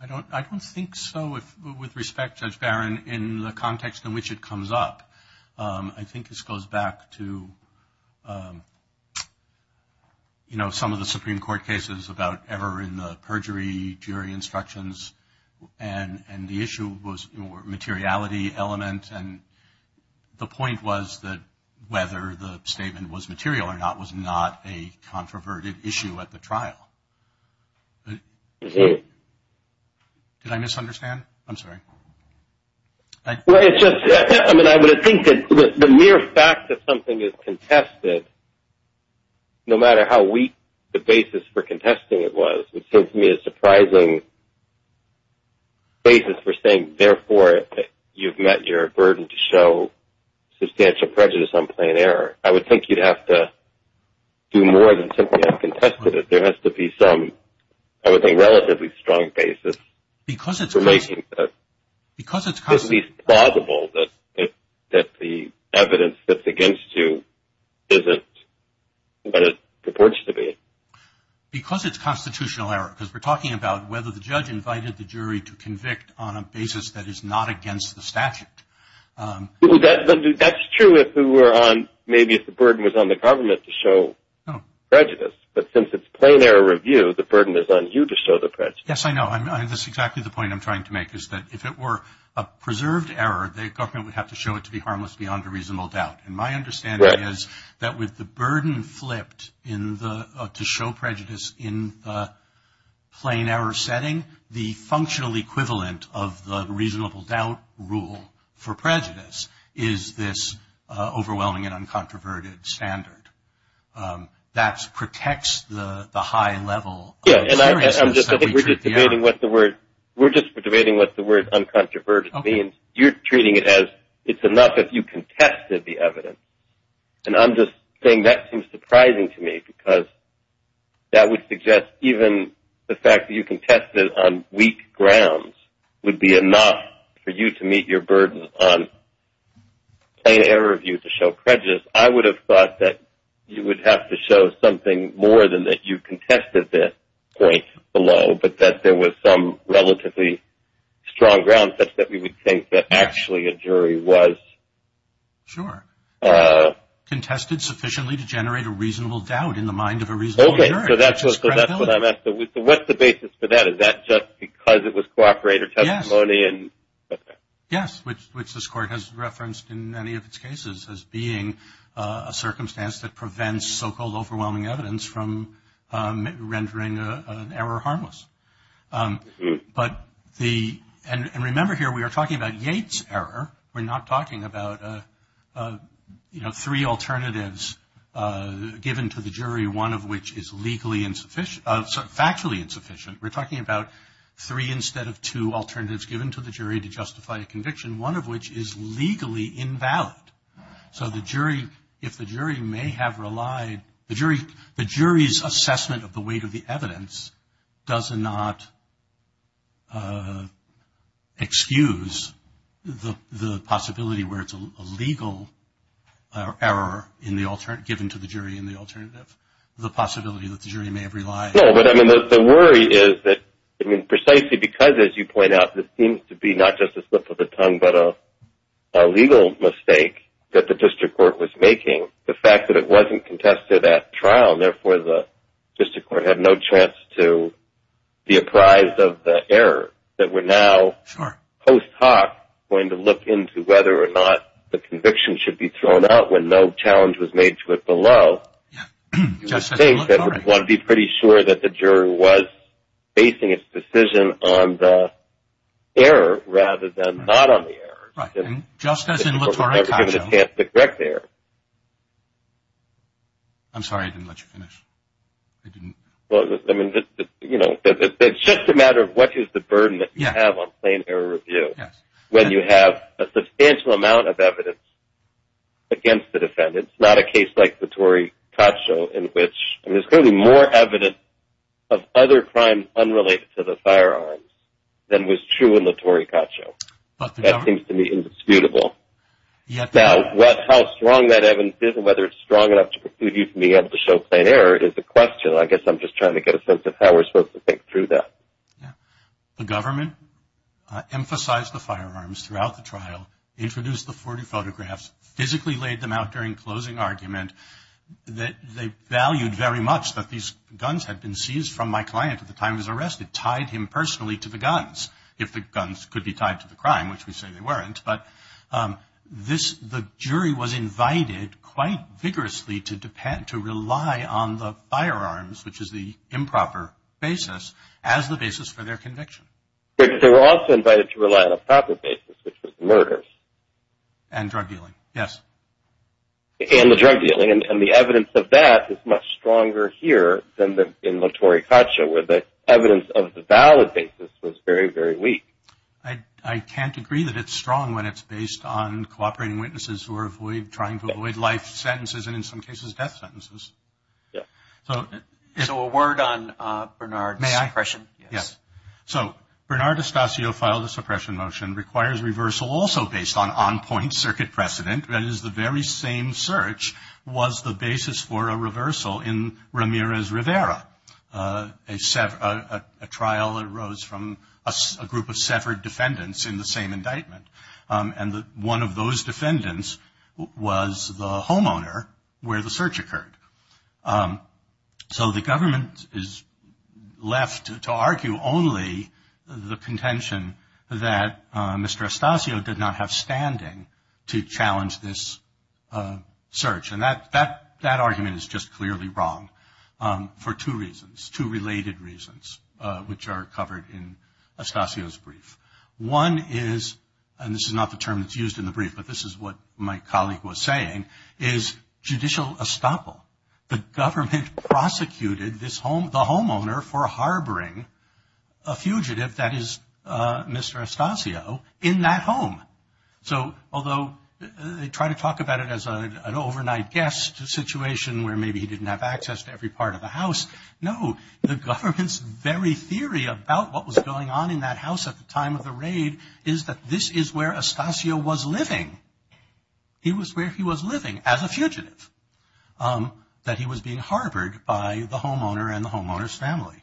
I don't think so with respect, Judge Barron, in the context in which it comes up. I think this goes back to, you know, some of the Supreme Court cases about error in the perjury jury instructions, and the issue was materiality element, and the point was that whether the statement was material or not was not a controverted issue at the trial. Did I misunderstand? I'm sorry. Well, it's just... I mean, I would think that the mere fact that something is contested, no matter how weak the basis for contesting it was, it seems to me a surprising basis for saying, therefore, you've met your burden to show substantial prejudice on plain error. I would think you'd have to do more than simply have contested it. There has to be some, I would think, relatively strong basis... ...for making it at least plausible that the evidence that's against you isn't what it purports to be. Because it's constitutional error, because we're talking about whether the judge invited the jury to convict on a basis that is not against the statute. Well, that's true if we were on, maybe if the burden was on the government to show prejudice, but since it's plain error review, the burden is on you to show the prejudice. Yes, I know. That's exactly the point I'm trying to make, is that if it were a preserved error, the government would have to show it to be harmless beyond a reasonable doubt. And my understanding is that with the burden flipped to show prejudice in the plain error setting, the functional equivalent of the reasonable doubt rule for prejudice is this overwhelming and uncontroverted standard. That protects the high level... Yes, and we're just debating what the word uncontroverted means. You're treating it as it's enough if you contested the evidence. And I'm just saying that seems surprising to me because that would suggest even the fact that you contested on weak grounds would be enough for you to meet your burden on plain error review to show prejudice. I would have thought that you would have to show something more than that you contested this point below, but that there was some relatively strong ground such that we would think that actually a jury was... Sure, contested sufficiently to generate a reasonable doubt in the mind of a reasonable jury. Okay, so that's what I'm asking. What's the basis for that? Is that just because it was cooperated testimony? Yes. Yes, which this court has referenced in many of its cases as being a circumstance that prevents so-called overwhelming evidence from rendering an error harmless. But the...and remember here we are talking about Yates' error. We're not talking about, you know, three alternatives given to the jury, one of which is legally insufficient, factually insufficient. We're talking about three instead of two alternatives given to the jury to justify the conviction, one of which is legally invalid. So the jury, if the jury may have relied...the jury's assessment of the weight of the evidence does not excuse the possibility where it's a legal error in the...given to the jury in the alternative, the possibility that the jury may have relied... No, but, I mean, the worry is that, I mean, precisely because, as you point out, this seems to be not just a slip of the tongue but a legal mistake that the district court was making, the fact that it wasn't contested at trial and therefore the district court had no chance to be apprised of the error, that we're now post hoc going to look into whether or not the conviction should be thrown out when no challenge was made to it below. I think that one would be pretty sure that the jury was basing its decision on the error rather than not on the error. Right, and just as in Latore's case... They were never given a chance to correct the error. I'm sorry, I didn't let you finish. Well, I mean, you know, it's just a matter of what is the burden that you have on plain error review when you have a substantial amount of evidence against the defendant. It's not a case like Latore Cacho in which there's clearly more evidence of other crimes unrelated to the firearms than was true in Latore Cacho. That seems to me indisputable. Now, how strong that evidence is and whether it's strong enough to be able to show plain error is the question. I guess I'm just trying to get a sense of how we're supposed to think through that. The government emphasized the firearms throughout the trial, introduced the 40 photographs, physically laid them out during closing argument. They valued very much that these guns had been seized from my client at the time he was arrested, tied him personally to the guns, if the guns could be tied to the crime, which we say they weren't. But the jury was invited quite vigorously to rely on the firearms, which is the improper basis, as the basis for their conviction. But they were also invited to rely on a proper basis, which was murder. And drug dealing, yes. And the drug dealing. And the evidence of that is much stronger here than in Latore Cacho, where the evidence of the valid basis was very, very weak. I can't agree that it's strong when it's based on cooperating witnesses who are trying to avoid life sentences and, in some cases, death sentences. So a word on Bernard's question. May I? Yes. So Bernard Estacio filed a suppression motion, requires reversal also based on on-point circuit precedent, that is, the very same search was the basis for a reversal in Ramirez Rivera, a trial that arose from a group of separate defendants in the same indictment. And one of those defendants was the homeowner where the search occurred. So the government is left to argue only the contention that Mr. Estacio did not have standing to challenge this search. And that argument is just clearly wrong for two reasons, two related reasons, which are covered in Estacio's brief. One is, and this is not the term that's used in the brief, but this is what my colleague was saying, is judicial estoppel. The government prosecuted the homeowner for harboring a fugitive, that is, Mr. Estacio, in that home. So although they try to talk about it as an overnight guest situation where maybe he didn't have access to every part of the house, no, the government's very theory about what was going on in that house at the time of the raid is that this is where Estacio was living. He was where he was living as a fugitive, that he was being harbored by the homeowner and the homeowner's family.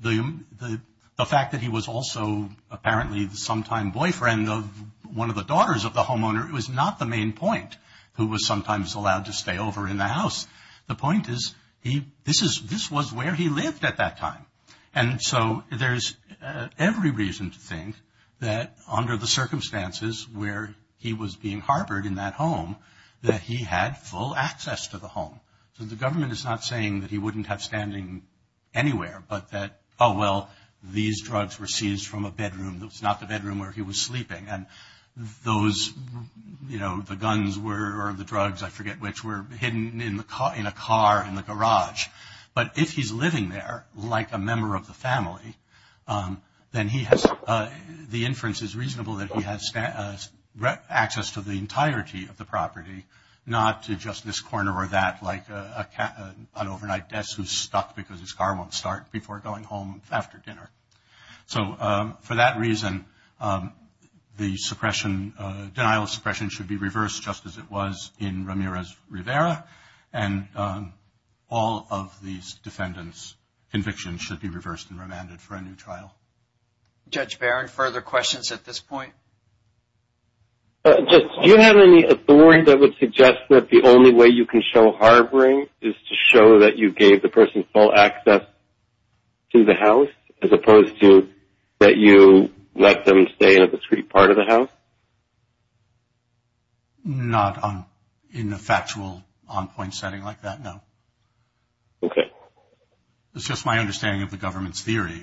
The fact that he was also apparently the sometime boyfriend of one of the daughters of the homeowner was not the main point, who was sometimes allowed to stay over in the house. The point is this was where he lived at that time. And so there's every reason to think that under the circumstances where he was being harbored in that home that he had full access to the home. So the government is not saying that he wouldn't have standing anywhere, but that, oh, well, these drugs were seized from a bedroom that was not the bedroom where he was sleeping. And those, you know, the guns were, or the drugs, I forget which, were hidden in a car in the garage. But if he's living there like a member of the family, then the inference is reasonable that he has access to the entirety of the property, not to just this corner or that like an overnight guest who's stuck because his car won't start before going home after dinner. So for that reason, the denial of suppression should be reversed just as it was in Ramirez-Rivera, and all of these defendants' convictions should be reversed and remanded for a new trial. Judge Barron, further questions at this point? Judge, do you have any authority that would suggest that the only way you can show harboring is to show that you gave the person full access to the house, as opposed to that you let them stay in a discrete part of the house? Not in a factual, on-point setting like that, no. Okay. It's just my understanding of the government's theory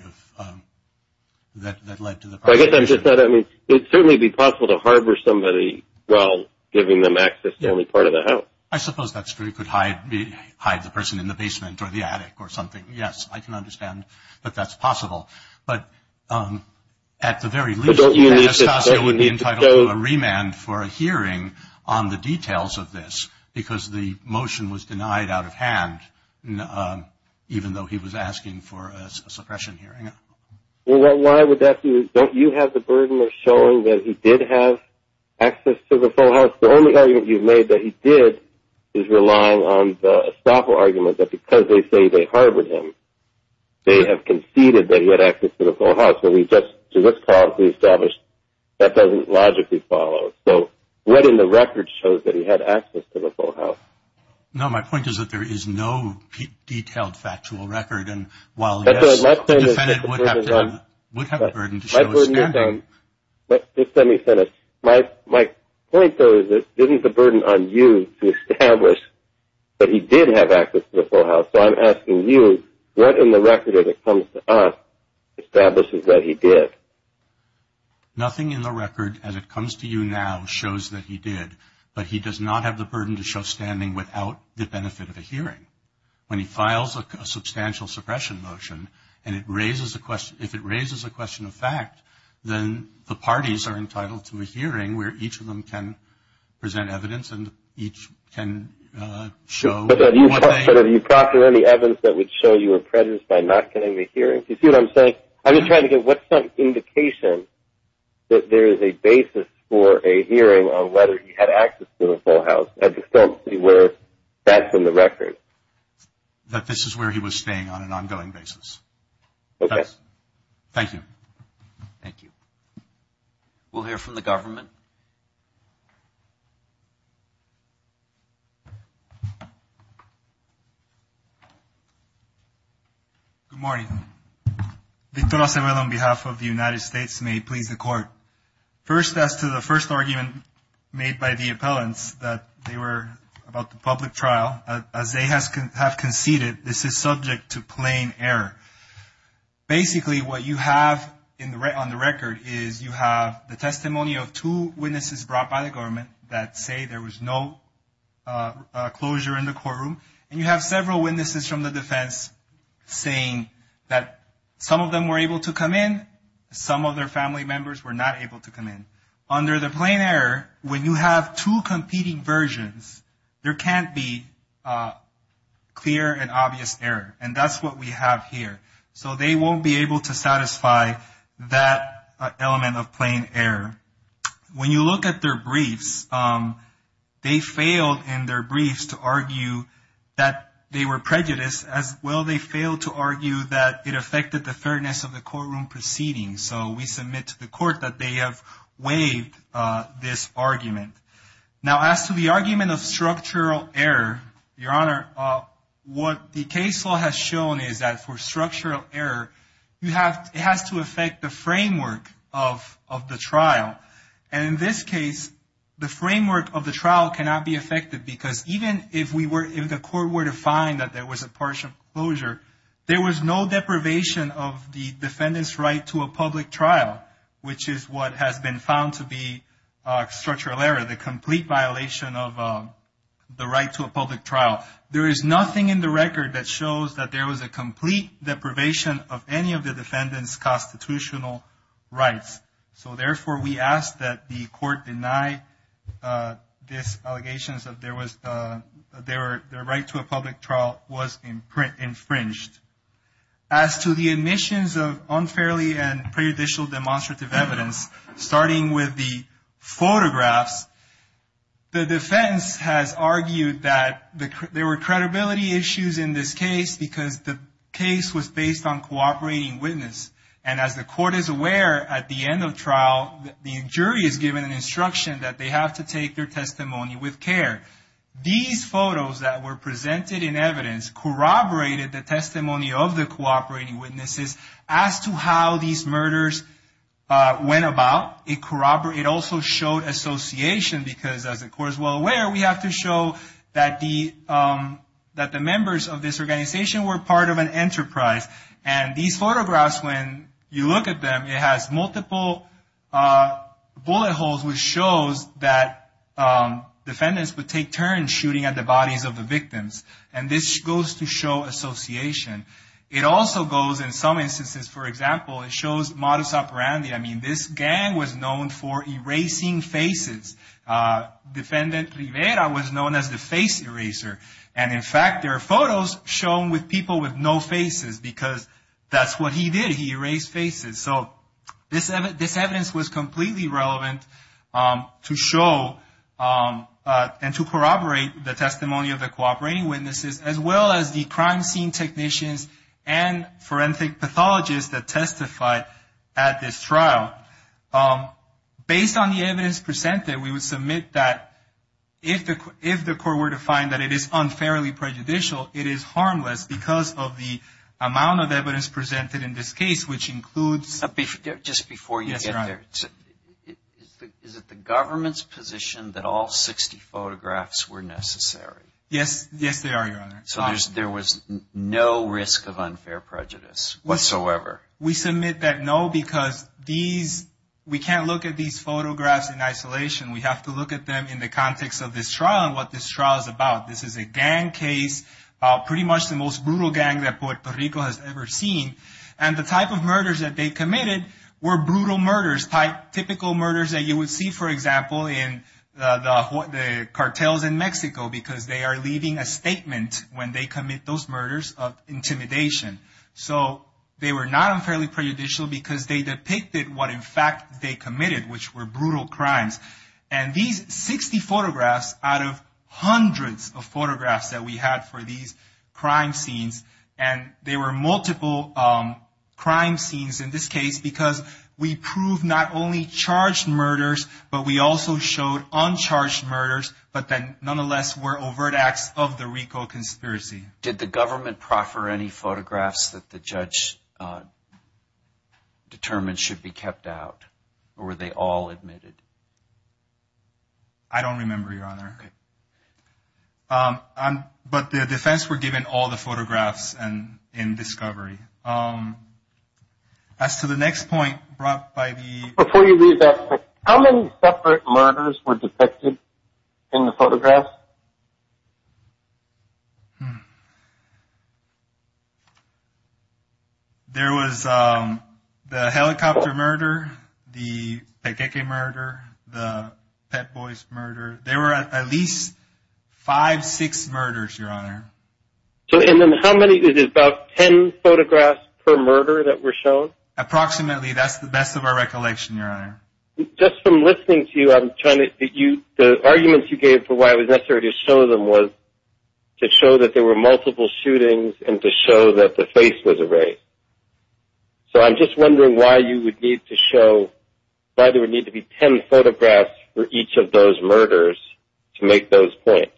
that led to the proposition. So I guess I'm just saying it would certainly be possible to harbor somebody while giving them access to only part of the house. I suppose that's true. You could hide the person in the basement or the attic or something. Yes, I can understand that that's possible. But at the very least, he would be entitled to a remand for a hearing on the details of this, because the motion was denied out of hand, even though he was asking for a suppression hearing. Well, why would that be? Don't you have the burden of showing that he did have access to the full house? The only argument you've made that he did is relying on the estoppel argument that because they say they harbored him, they have conceded that he had access to the full house. So we've just, to this clause, we've established that doesn't logically follow. So letting the record show that he had access to the full house. No, my point is that there is no detailed factual record. My point is that this is a burden on you to establish that he did have access to the full house. So I'm asking you, what in the record, as it comes to us, establishes that he did? Nothing in the record, as it comes to you now, shows that he did. But he does not have the burden to show standing without the benefit of a hearing. When he files a substantial suppression motion and it raises a question, if it raises a question of fact, then the parties are entitled to a hearing where each of them can present evidence and each can show. But have you properly evidence that would show you were prejudiced by not getting the hearing? Do you see what I'm saying? I'm just trying to get what's the indication that there is a basis for a hearing on whether he had access to the full house, as it comes to you, where that's in the record. That this is where he was staying on an ongoing basis. Okay. Thank you. Thank you. We'll hear from the government. Good morning. Mr. Acevedo, on behalf of the United States, may he please the court. First, as to the first argument made by the appellants, that they were about the public trial, as they have conceded, this is subject to plain error. Basically, what you have on the record is you have the testimony of two witnesses brought by the government that say there was no closure in the courtroom. And you have several witnesses from the defense saying that some of them were able to come in, some of their family members were not able to come in. Under the plain error, when you have two competing versions, there can't be clear and obvious error. And that's what we have here. So they won't be able to satisfy that element of plain error. When you look at their briefs, they failed in their briefs to argue that they were prejudiced, as well they failed to argue that it affected the fairness of the courtroom proceeding. So we submit to the court that they have waived this argument. Now, as to the argument of structural error, Your Honor, what the case law has shown is that for structural error, it has to affect the framework of the trial. And in this case, the framework of the trial cannot be affected, because even if the court were to find that there was a partial closure, there was no deprivation of the defendant's right to a public trial, which is what has been found to be structural error, the complete violation of the right to a public trial. There is nothing in the record that shows that there was a complete deprivation of any of the defendant's constitutional rights. So, therefore, we ask that the court deny these allegations that their right to a public trial was infringed. As to the admissions of unfairly and prejudicial demonstrative evidence, starting with the photographs, the defense has argued that there were credibility issues in this case because the case was based on cooperating witness. And as the court is aware, at the end of trial, the jury is given an instruction that they have to take their testimony with care. These photos that were presented in evidence corroborated the testimony of the cooperating witnesses as to how these murders went about. It also showed association because, as the court is well aware, we have to show that the members of this organization were part of an enterprise. And these photographs, when you look at them, it has multiple bullet holes, which shows that defendants would take turns shooting at the bodies of the victims. And this goes to show association. It also goes, in some instances, for example, it shows modus operandi. I mean, this gang was known for erasing faces. Defendant Rivera was known as the face eraser. And, in fact, there are photos shown with people with no faces because that's what he did. He erased faces. So this evidence was completely relevant to show and to corroborate the testimony of the cooperating witnesses, as well as the crime scene technicians and forensic pathologists that testified at this trial. Based on the evidence presented, we would submit that if the court were to find that it is unfairly prejudicial, it is harmless because of the amount of evidence presented in this case, which includes... Just before you get there, is it the government's position that all 60 photographs were necessary? Yes, they are, Your Honor. So there was no risk of unfair prejudice whatsoever? We submit that no because we can't look at these photographs in isolation. We have to look at them in the context of this trial and what this trial is about. This is a gang case, pretty much the most brutal gang that Puerto Rico has ever seen. And the type of murders that they committed were brutal murders, typical murders that you would see, for example, in the cartels in Mexico because they are leaving a statement when they commit those murders of intimidation. So they were not unfairly prejudicial because they depicted what, in fact, they committed, which were brutal crimes. And these 60 photographs out of hundreds of photographs that we had for these crime scenes, and there were multiple crime scenes in this case because we proved not only charged murders, but we also showed uncharged murders, but that nonetheless were overt acts of the Rico conspiracy. Did the government proffer any photographs that the judge determined should be kept out, or were they all admitted? I don't remember, Your Honor. But the defense were given all the photographs in discovery. As to the next point brought by the- Before you leave that, how many separate murders were detected in the photographs? There was the helicopter murder, the pepeque murder, the pet boys murder. There were at least five, six murders, Your Honor. And then how many, is it about ten photographs per murder that were shown? Approximately, that's the best of our recollection, Your Honor. Just from listening to you, I'm trying to-the arguments you gave for why it was necessary to show them was to show that there were multiple shootings and to show that the face was erased. So I'm just wondering why you would need to show-why there would need to be ten photographs for each of those murders to make those points.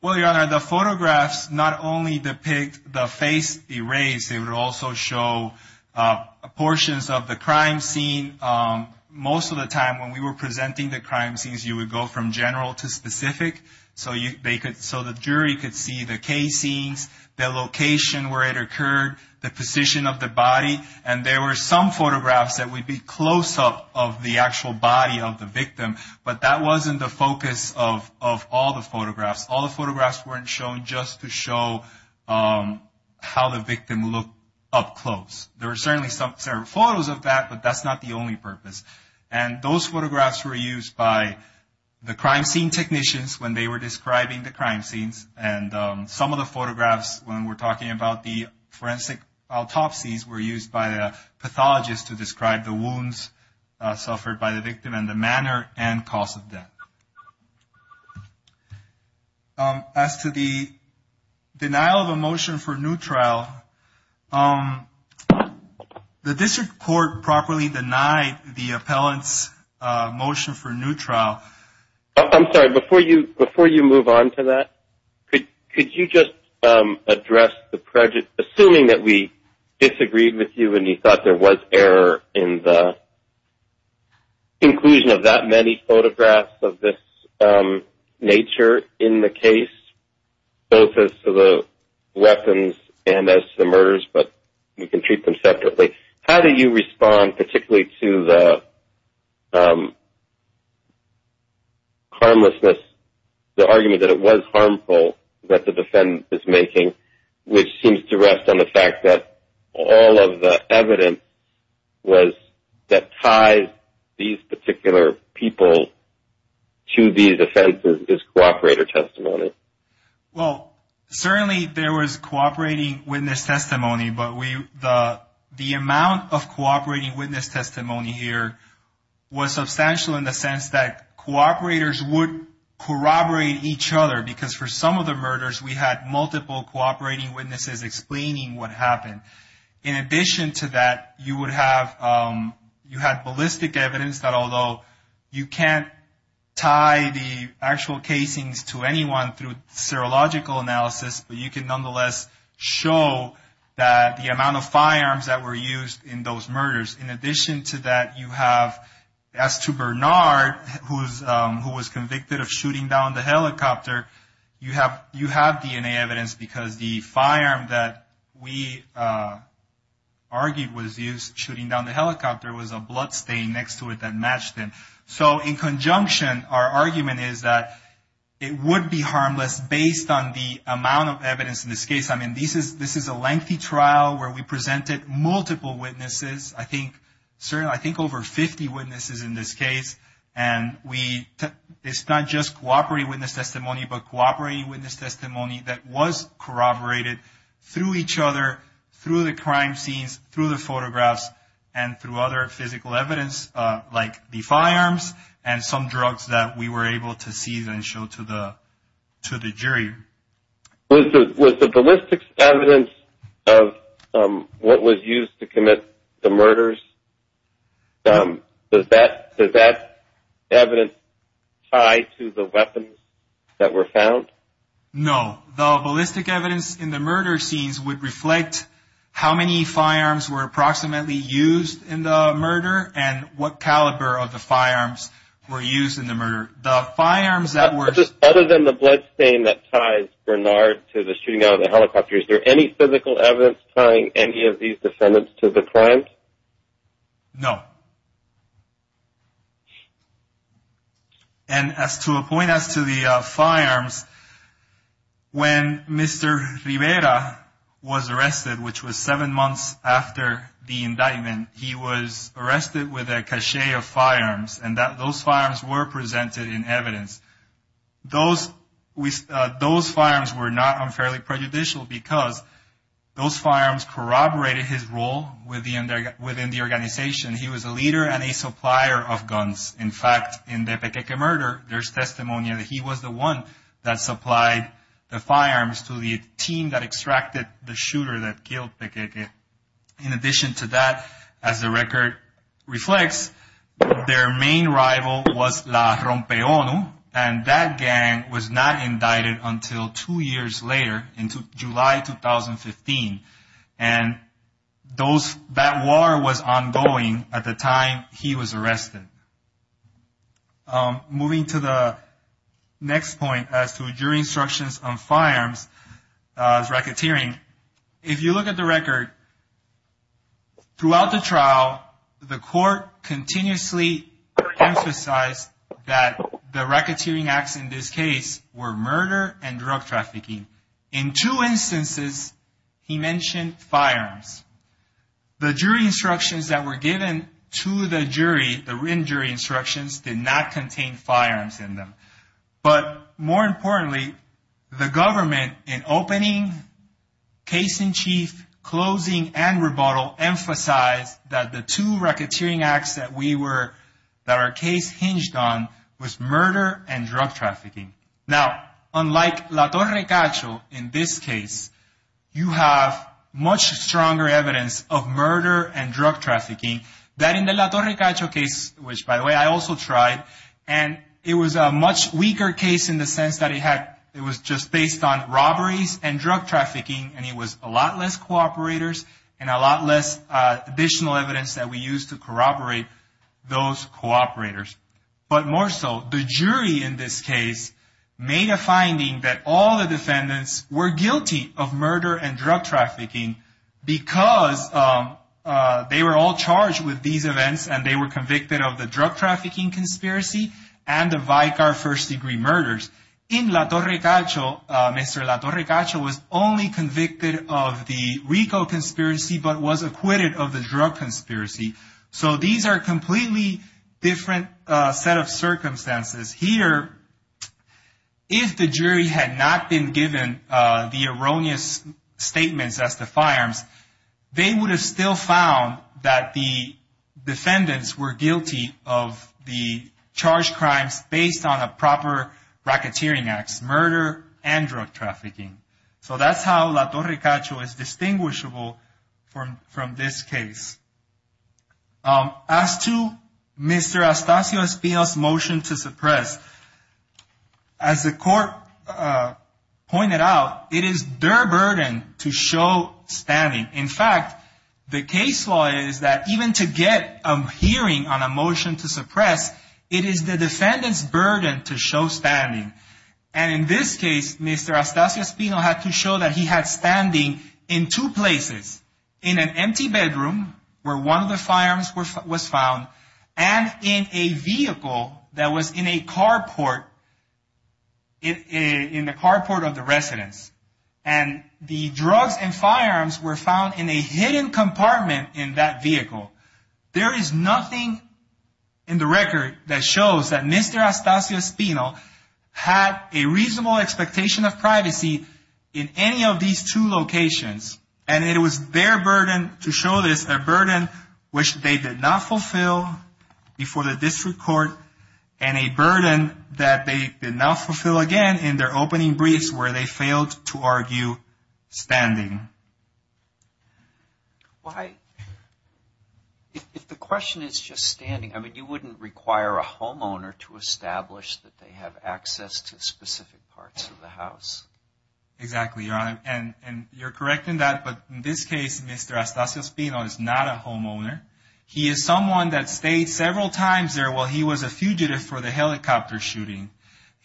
Well, Your Honor, the photographs not only depict the face erased, they would also show portions of the crime scene. Most of the time when we were presenting the crime scenes, you would go from general to specific, so the jury could see the case scenes, the location where it occurred, the position of the body. And there were some photographs that would be close-up of the actual body of the victim, but that wasn't the focus of all the photographs. All the photographs weren't shown just to show how the victim looked up close. There were certainly some photos of that, but that's not the only purpose. And those photographs were used by the crime scene technicians when they were describing the crime scenes, and some of the photographs when we're talking about the forensic autopsies were used by the pathologists to describe the wounds suffered by the victim and the manner and cause of death. As to the denial of a motion for new trial, the district court properly denied the appellant's motion for new trial. I'm sorry, before you move on to that, could you just address the prejudice, assuming that we disagreed with you and you thought there was error in the inclusion of that many photographs of this nature in the case, both as to the weapons and as to the murders, but we can treat them separately. How do you respond particularly to the argument that it was harmful that the defendant is making, which seems to rest on the fact that all of the evidence that ties these particular people to these offenses is cooperator testimony? Well, certainly there was cooperating witness testimony, but the amount of cooperating witness testimony here was substantial in the sense that cooperators would corroborate each other, because for some of the murders we had multiple cooperating witnesses explaining what happened. In addition to that, you would have ballistic evidence, but although you can't tie the actual casings to anyone through serological analysis, but you can nonetheless show the amount of firearms that were used in those murders. In addition to that, you have, as to Bernard, who was convicted of shooting down the helicopter, you have DNA evidence because the firearm that we argued was used shooting down the helicopter was a bloodstain next to it that matched him. So in conjunction, our argument is that it would be harmless based on the amount of evidence in this case. I mean, this is a lengthy trial where we presented multiple witnesses, I think over 50 witnesses in this case, and it's not just cooperating witness testimony, but cooperating witness testimony that was corroborated through each other, through the crime scenes, through the photographs, and through other physical evidence like the firearms and some drugs that we were able to see and show to the jury. Was the ballistics evidence of what was used to commit the murders, does that evidence tie to the weapons that were found? No. The ballistic evidence in the murder scenes would reflect how many firearms were approximately used in the murder and what caliber of the firearms were used in the murder. Other than the bloodstain that ties Bernard to the shooting down of the helicopter, is there any physical evidence tying any of these defendants to the crime? No. And to a point as to the firearms, when Mr. Rivera was arrested, which was seven months after the indictment, he was arrested with a cache of firearms, and those firearms were presented in evidence. Those firearms were not unfairly prejudicial because those firearms corroborated his role within the organization. He was a leader and a supplier of guns. In fact, in the Pequeque murder, there's testimony that he was the one that supplied the firearms to the team that extracted the shooter that killed Pequeque. In addition to that, as the record reflects, their main rival was La Rompe ONU, and that gang was not indicted until two years later in July 2015, and that war was ongoing at the time he was arrested. Moving to the next point as to jury instructions on firearms, racketeering, if you look at the record, throughout the trial, the court continuously emphasized that the racketeering acts in this case were murder and drug trafficking. In two instances, he mentioned firearms. The jury instructions that were given to the jury, the written jury instructions, did not contain firearms in them. But more importantly, the government, in opening, case in chief, closing, and rebuttal, emphasized that the two racketeering acts that our case hinged on was murder and drug trafficking. Now, unlike La Torre Cacho in this case, you have much stronger evidence of murder and drug trafficking than in the La Torre Cacho case, which, by the way, I also tried, and it was a much weaker case in the sense that it was just based on robberies and drug trafficking, and it was a lot less cooperators and a lot less additional evidence that we used to corroborate those cooperators. But more so, the jury in this case made a finding that all the defendants were guilty of murder and drug trafficking because they were all charged with these events and they were convicted of the drug trafficking conspiracy and the Vicar first-degree murders. In La Torre Cacho, Mr. La Torre Cacho was only convicted of the Rico conspiracy but was acquitted of the drug conspiracy. So these are completely different set of circumstances. Here, if the jury had not been given the erroneous statements as the firearms, they would have still found that the defendants were guilty of the charged crimes based on a proper racketeering act, murder and drug trafficking. So that's how La Torre Cacho is distinguishable from this case. As to Mr. Astacio Espino's motion to suppress, as the court pointed out, it is their burden to show spamming. In fact, the case law is that even to get a hearing on a motion to suppress, it is the defendant's burden to show spamming. And in this case, Mr. Astacio Espino had to show that he had spamming in two places, in an empty bedroom where one of the firearms was found and in a vehicle that was in a carport of the residence. And the drug and firearms were found in a hidden compartment in that vehicle. There is nothing in the record that shows that Mr. Astacio Espino had a reasonable expectation of privacy in any of these two locations. And it was their burden to show this, a burden which they did not fulfill before the district court and a burden that they did not fulfill again in their opening briefs where they failed to argue spamming. If the question is just standing, I mean, you wouldn't require a homeowner to establish that they have access to specific parts of the house. Exactly, Your Honor. And you're correct in that, but in this case, Mr. Astacio Espino is not a homeowner. He is someone that stayed several times there while he was a fugitive for the helicopter shooting.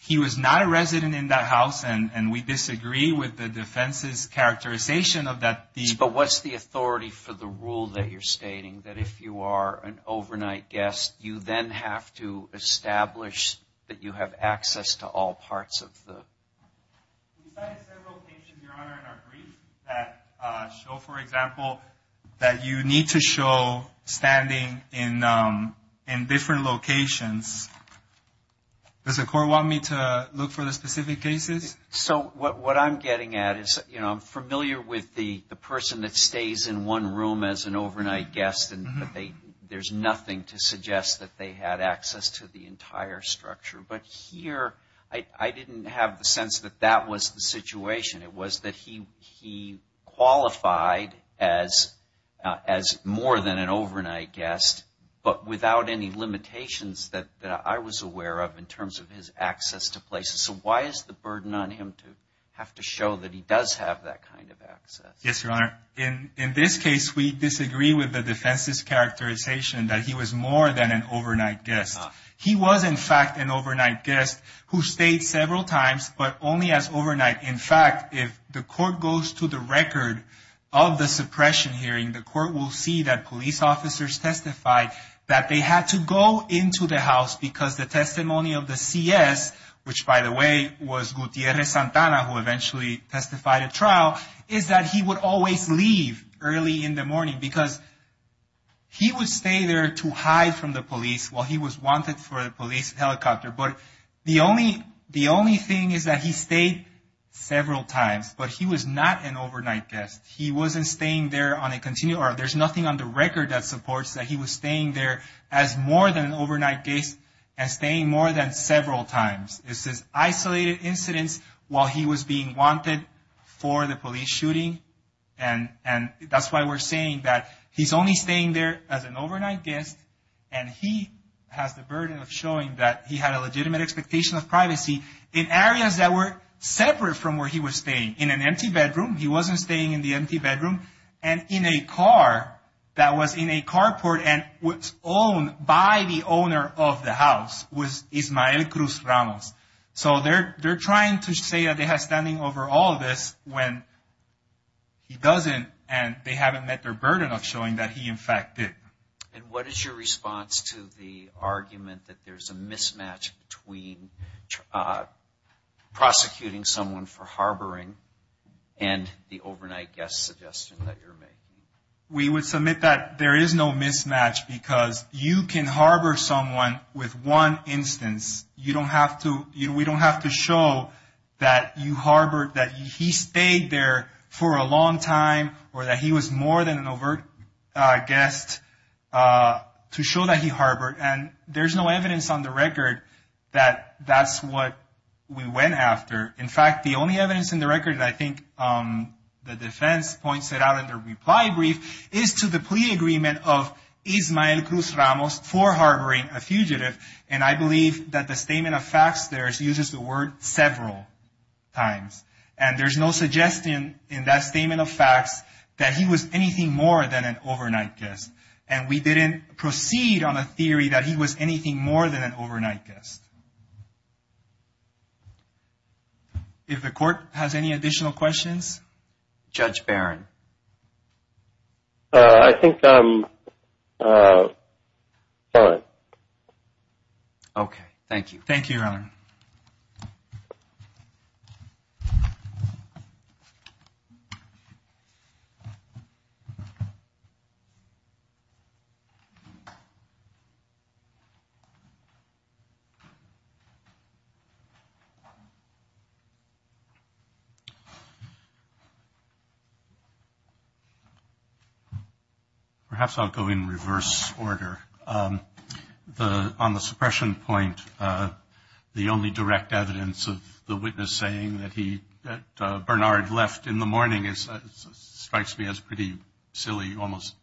He was not a resident in that house, and we disagree with the defense's characterization But what's the authority for the rule that you're stating, that if you are an overnight guest, you then have to establish that you have access to all parts of the house? We've had several cases, Your Honor, in our briefs that show, for example, that you need to show standing in different locations. Does the court want me to look for the specific cases? So what I'm getting at is I'm familiar with the person that stays in one room as an overnight guest, and there's nothing to suggest that they had access to the entire structure. But here, I didn't have the sense that that was the situation. It was that he qualified as more than an overnight guest, but without any limitations that I was aware of in terms of his access to places. So why is the burden on him to have to show that he does have that kind of access? Yes, Your Honor. In this case, we disagree with the defense's characterization that he was more than an overnight guest. He was, in fact, an overnight guest who stayed several times, but only as overnight. In fact, if the court goes to the record of the suppression hearing, the court will see that police officers testified that they had to go into the house because the testimony of the CS, which, by the way, was Gutierrez-Santana, who eventually testified at trial, is that he would always leave early in the morning because he would stay there to hide from the police while he was wanted for a police helicopter. But the only thing is that he stayed several times, but he was not an overnight guest. He wasn't staying there on a continuum, or there's nothing on the record that supports that he was staying there as more than an overnight guest and staying more than several times. This is isolated incidents while he was being wanted for the police shooting, and that's why we're saying that he's only staying there as an overnight guest, and he has the burden of showing that he had a legitimate expectation of privacy in areas that were separate from where he was staying. In an empty bedroom, he wasn't staying in the empty bedroom. And in a car that was in a carport and was owned by the owner of the house was Ismael Cruz Ramos. So they're trying to say that they have standing over all of this when he doesn't, and they haven't met their burden of showing that he, in fact, did. And what is your response to the argument that there's a mismatch between prosecuting someone for harboring and the overnight guest suggestion that you're making? We would submit that there is no mismatch because you can harbor someone with one instance. We don't have to show that you harbored that he stayed there for a long time or that he was more than an overt guest to show that he harbored. And there's no evidence on the record that that's what we went after. In fact, the only evidence on the record that I think the defense points it out in their reply brief is to the pre-agreement of Ismael Cruz Ramos for harboring a fugitive. And I believe that the statement of facts there uses the word several times. And there's no suggestion in that statement of facts that he was anything more than an overnight guest. And we didn't proceed on a theory that he was anything more than an overnight guest. If the court has any additional questions? Judge Barron. I think I'm done. Okay. Thank you. Thank you, Your Honor. Perhaps I'll go in reverse order. On the suppression point, the only direct evidence of the witness saying that Bernard left in the morning strikes me as pretty silly, almost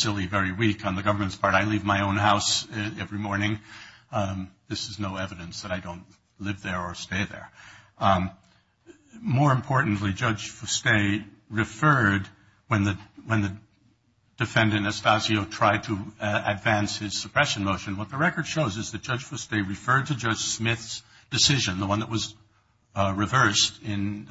silly, very weak on the government's part. I leave my own house every morning. This is no evidence that I don't live there or stay there. More importantly, Judge Fuste referred when the defendant, Estacio, tried to advance his suppression motion, what the record shows is that Judge Fuste referred to Judge Smith's decision, the one that was reversed in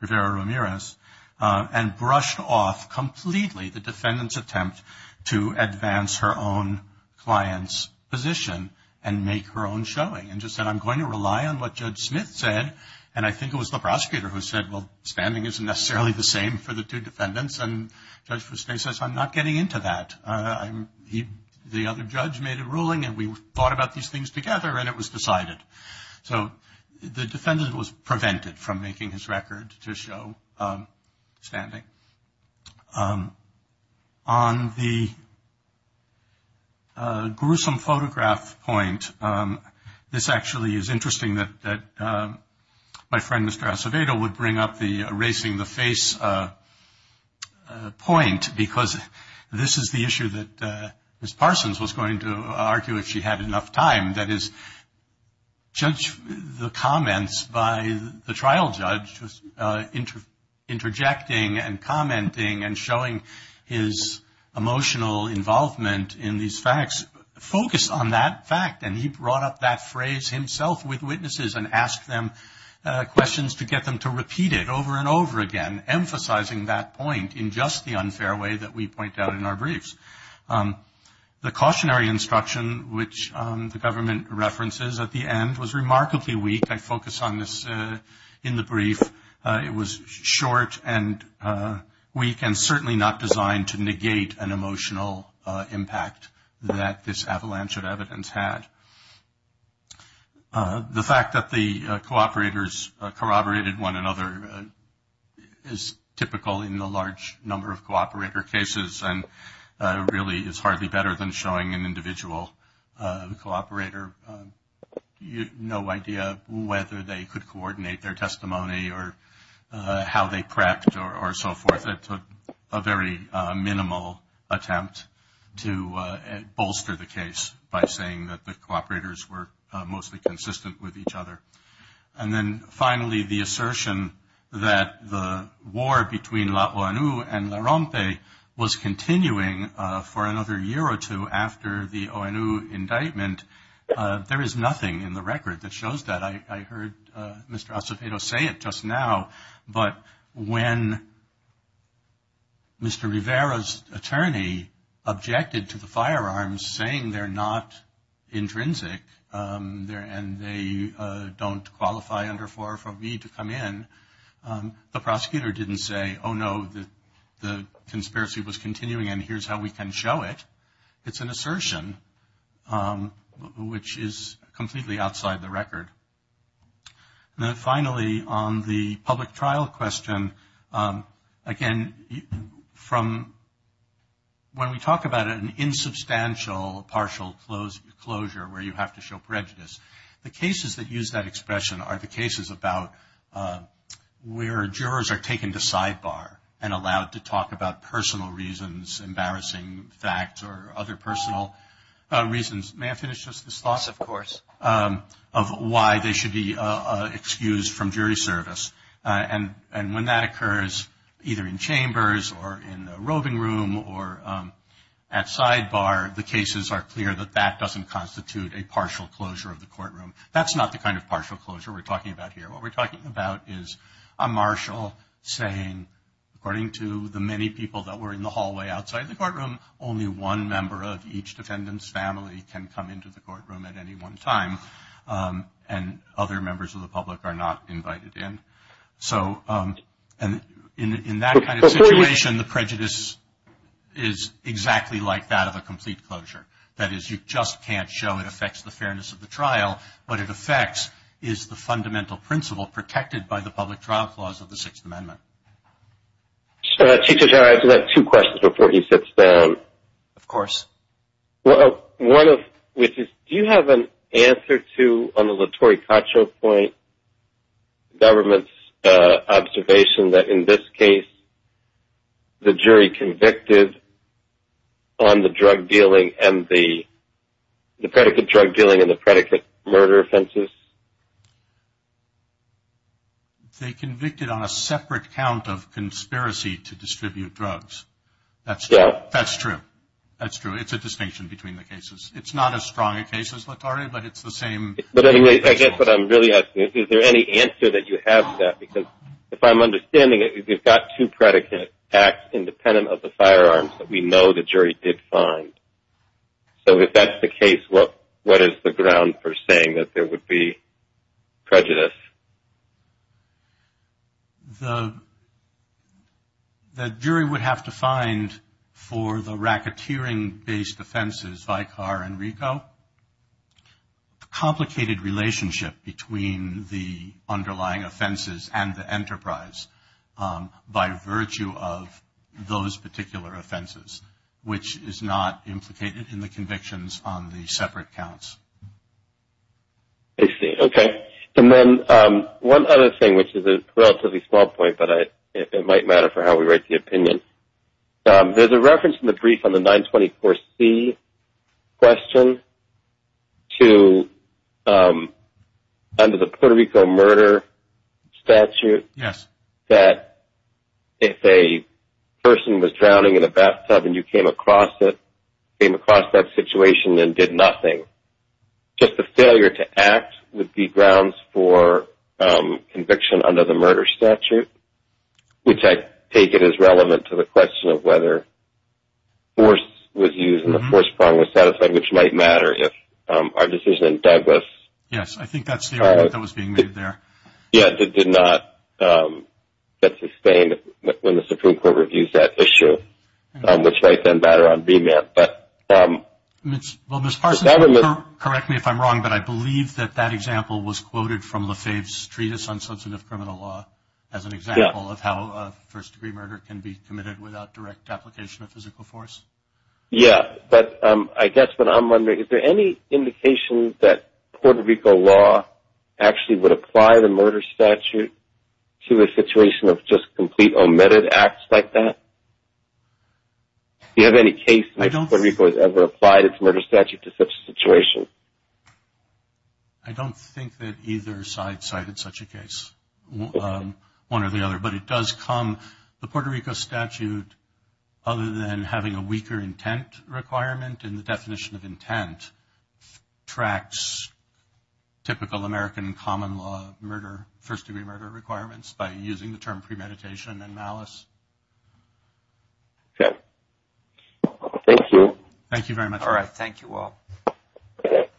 Rivera-Ramirez, and brushed off completely the defendant's attempt to advance her own client's position and make her own showing. And just said, I'm going to rely on what Judge Smith said. And I think it was the prosecutor who said, well, standing isn't necessarily the same for the two defendants. And Judge Fuste says, I'm not getting into that. The other judge made a ruling, and we thought about these things together, and it was decided. So the defendant was prevented from making his record to show standing. Okay. On the gruesome photograph point, this actually is interesting that my friend, Mr. Acevedo, would bring up the erasing the face point, because this is the issue that Ms. Parsons was going to argue if she had enough time, that is, judge the comments by the trial judge, interjecting and commenting and showing his emotional involvement in these facts, focus on that fact. And he brought up that phrase himself with witnesses and asked them questions to get them to repeat it over and over again, emphasizing that point in just the unfair way that we point out in our briefs. The cautionary instruction, which the government references at the end, was remarkably weak. I focus on this in the brief. It was short and weak and certainly not designed to negate an emotional impact that this avalanche of evidence had. The fact that the cooperators corroborated one another is typical in a large number of cooperator cases and really is hardly better than showing an individual cooperator no idea whether they could coordinate their testimony or how they prepped or so forth. It's a very minimal attempt to bolster the case by saying that the cooperators were mostly consistent with each other. And then finally, the assertion that the war between the ONU and the RAMPE was continuing for another year or two after the ONU indictment, there is nothing in the record that shows that. I heard Mr. Acevedo say it just now, but when Mr. Rivera's attorney objected to the firearms, saying they're not intrinsic and they don't qualify under 45B to come in, the prosecutor didn't say, oh, no, the conspiracy was continuing and here's how we can show it. It's an assertion, which is completely outside the record. And then finally, on the public trial question, again, from when we talk about an insubstantial partial closure where you have to show prejudice, the cases that use that expression are the cases about where jurors are taken to sidebar and allowed to talk about personal reasons, embarrassing facts or other personal reasons. May I finish just this thought? Of course. Of why they should be excused from jury service. And when that occurs either in chambers or in the roving room or at sidebar, the cases are clear that that doesn't constitute a partial closure of the courtroom. That's not the kind of partial closure we're talking about here. What we're talking about is a marshal saying, according to the many people that were in the hallway outside the courtroom, only one member of each defendant's family can come into the courtroom at any one time and other members of the public are not invited in. So in that kind of situation, the prejudice is exactly like that of a complete closure. That is, you just can't show it affects the fairness of the trial. What it affects is the fundamental principle protected by the public trial clause of the Sixth Amendment. Chief Judge, I have two questions before he sits down. Of course. One of which is, do you have an answer to the Latorre-Cottrell point, government's observation that in this case the jury convicted on the drug dealing and the predicate drug dealing and the predicate murder offenses? They convicted on a separate count of conspiracy to distribute drugs. That's true. That's true. It's a distinction between the cases. It's not as strong a case as Latorre, but it's the same. I guess what I'm really asking is, is there any answer that you have to that? Because if I'm understanding it, you've got two predicate acts independent of the firearms that we know the jury did find. So if that's the case, what is the ground for saying that there would be prejudice? The jury would have to find for the racketeering-based offenses, Vicar and Rico, a complicated relationship between the underlying offenses and the enterprise by virtue of those particular offenses, which is not implicated in the convictions on the separate counts. I see. Okay. And then one other thing, which is a relatively small point, but it might matter for how we write the opinion. There's a reference in the brief on the 924C question to under the Puerto Rico murder statute that if a person was drowning in a bathtub and you came across it, came across that situation and did nothing, just the failure to act would be grounds for conviction under the murder statute, which I take it is relevant to the question of whether force was used and the force was satisfied, which might matter if our decision in Douglas. Yes, I think that's the argument that was being made there. Yes, it did not get sustained when the Supreme Court reviews that issue, which right then, battered on VMAT. Ms. Parsons, correct me if I'm wrong, but I believe that that example was quoted from Lefebvre's Treatise on Substantive Criminal Law as an example of how a first-degree murder can be committed without direct application of physical force. Yes, but I guess what I'm wondering, is there any indication that Puerto Rico law actually would apply the murder statute to a situation of just complete omitted acts like that? Do you have any case where Puerto Rico has ever applied its murder statute to such a situation? I don't think that either side cited such a case, one or the other, but it does come, the Puerto Rico statute, other than having a weaker intent requirement in the definition of intent, tracks typical American common law murder, first-degree murder requirements by using the term premeditation and malice. Okay. Thank you. Thank you very much. All right. Thank you all. Thank you.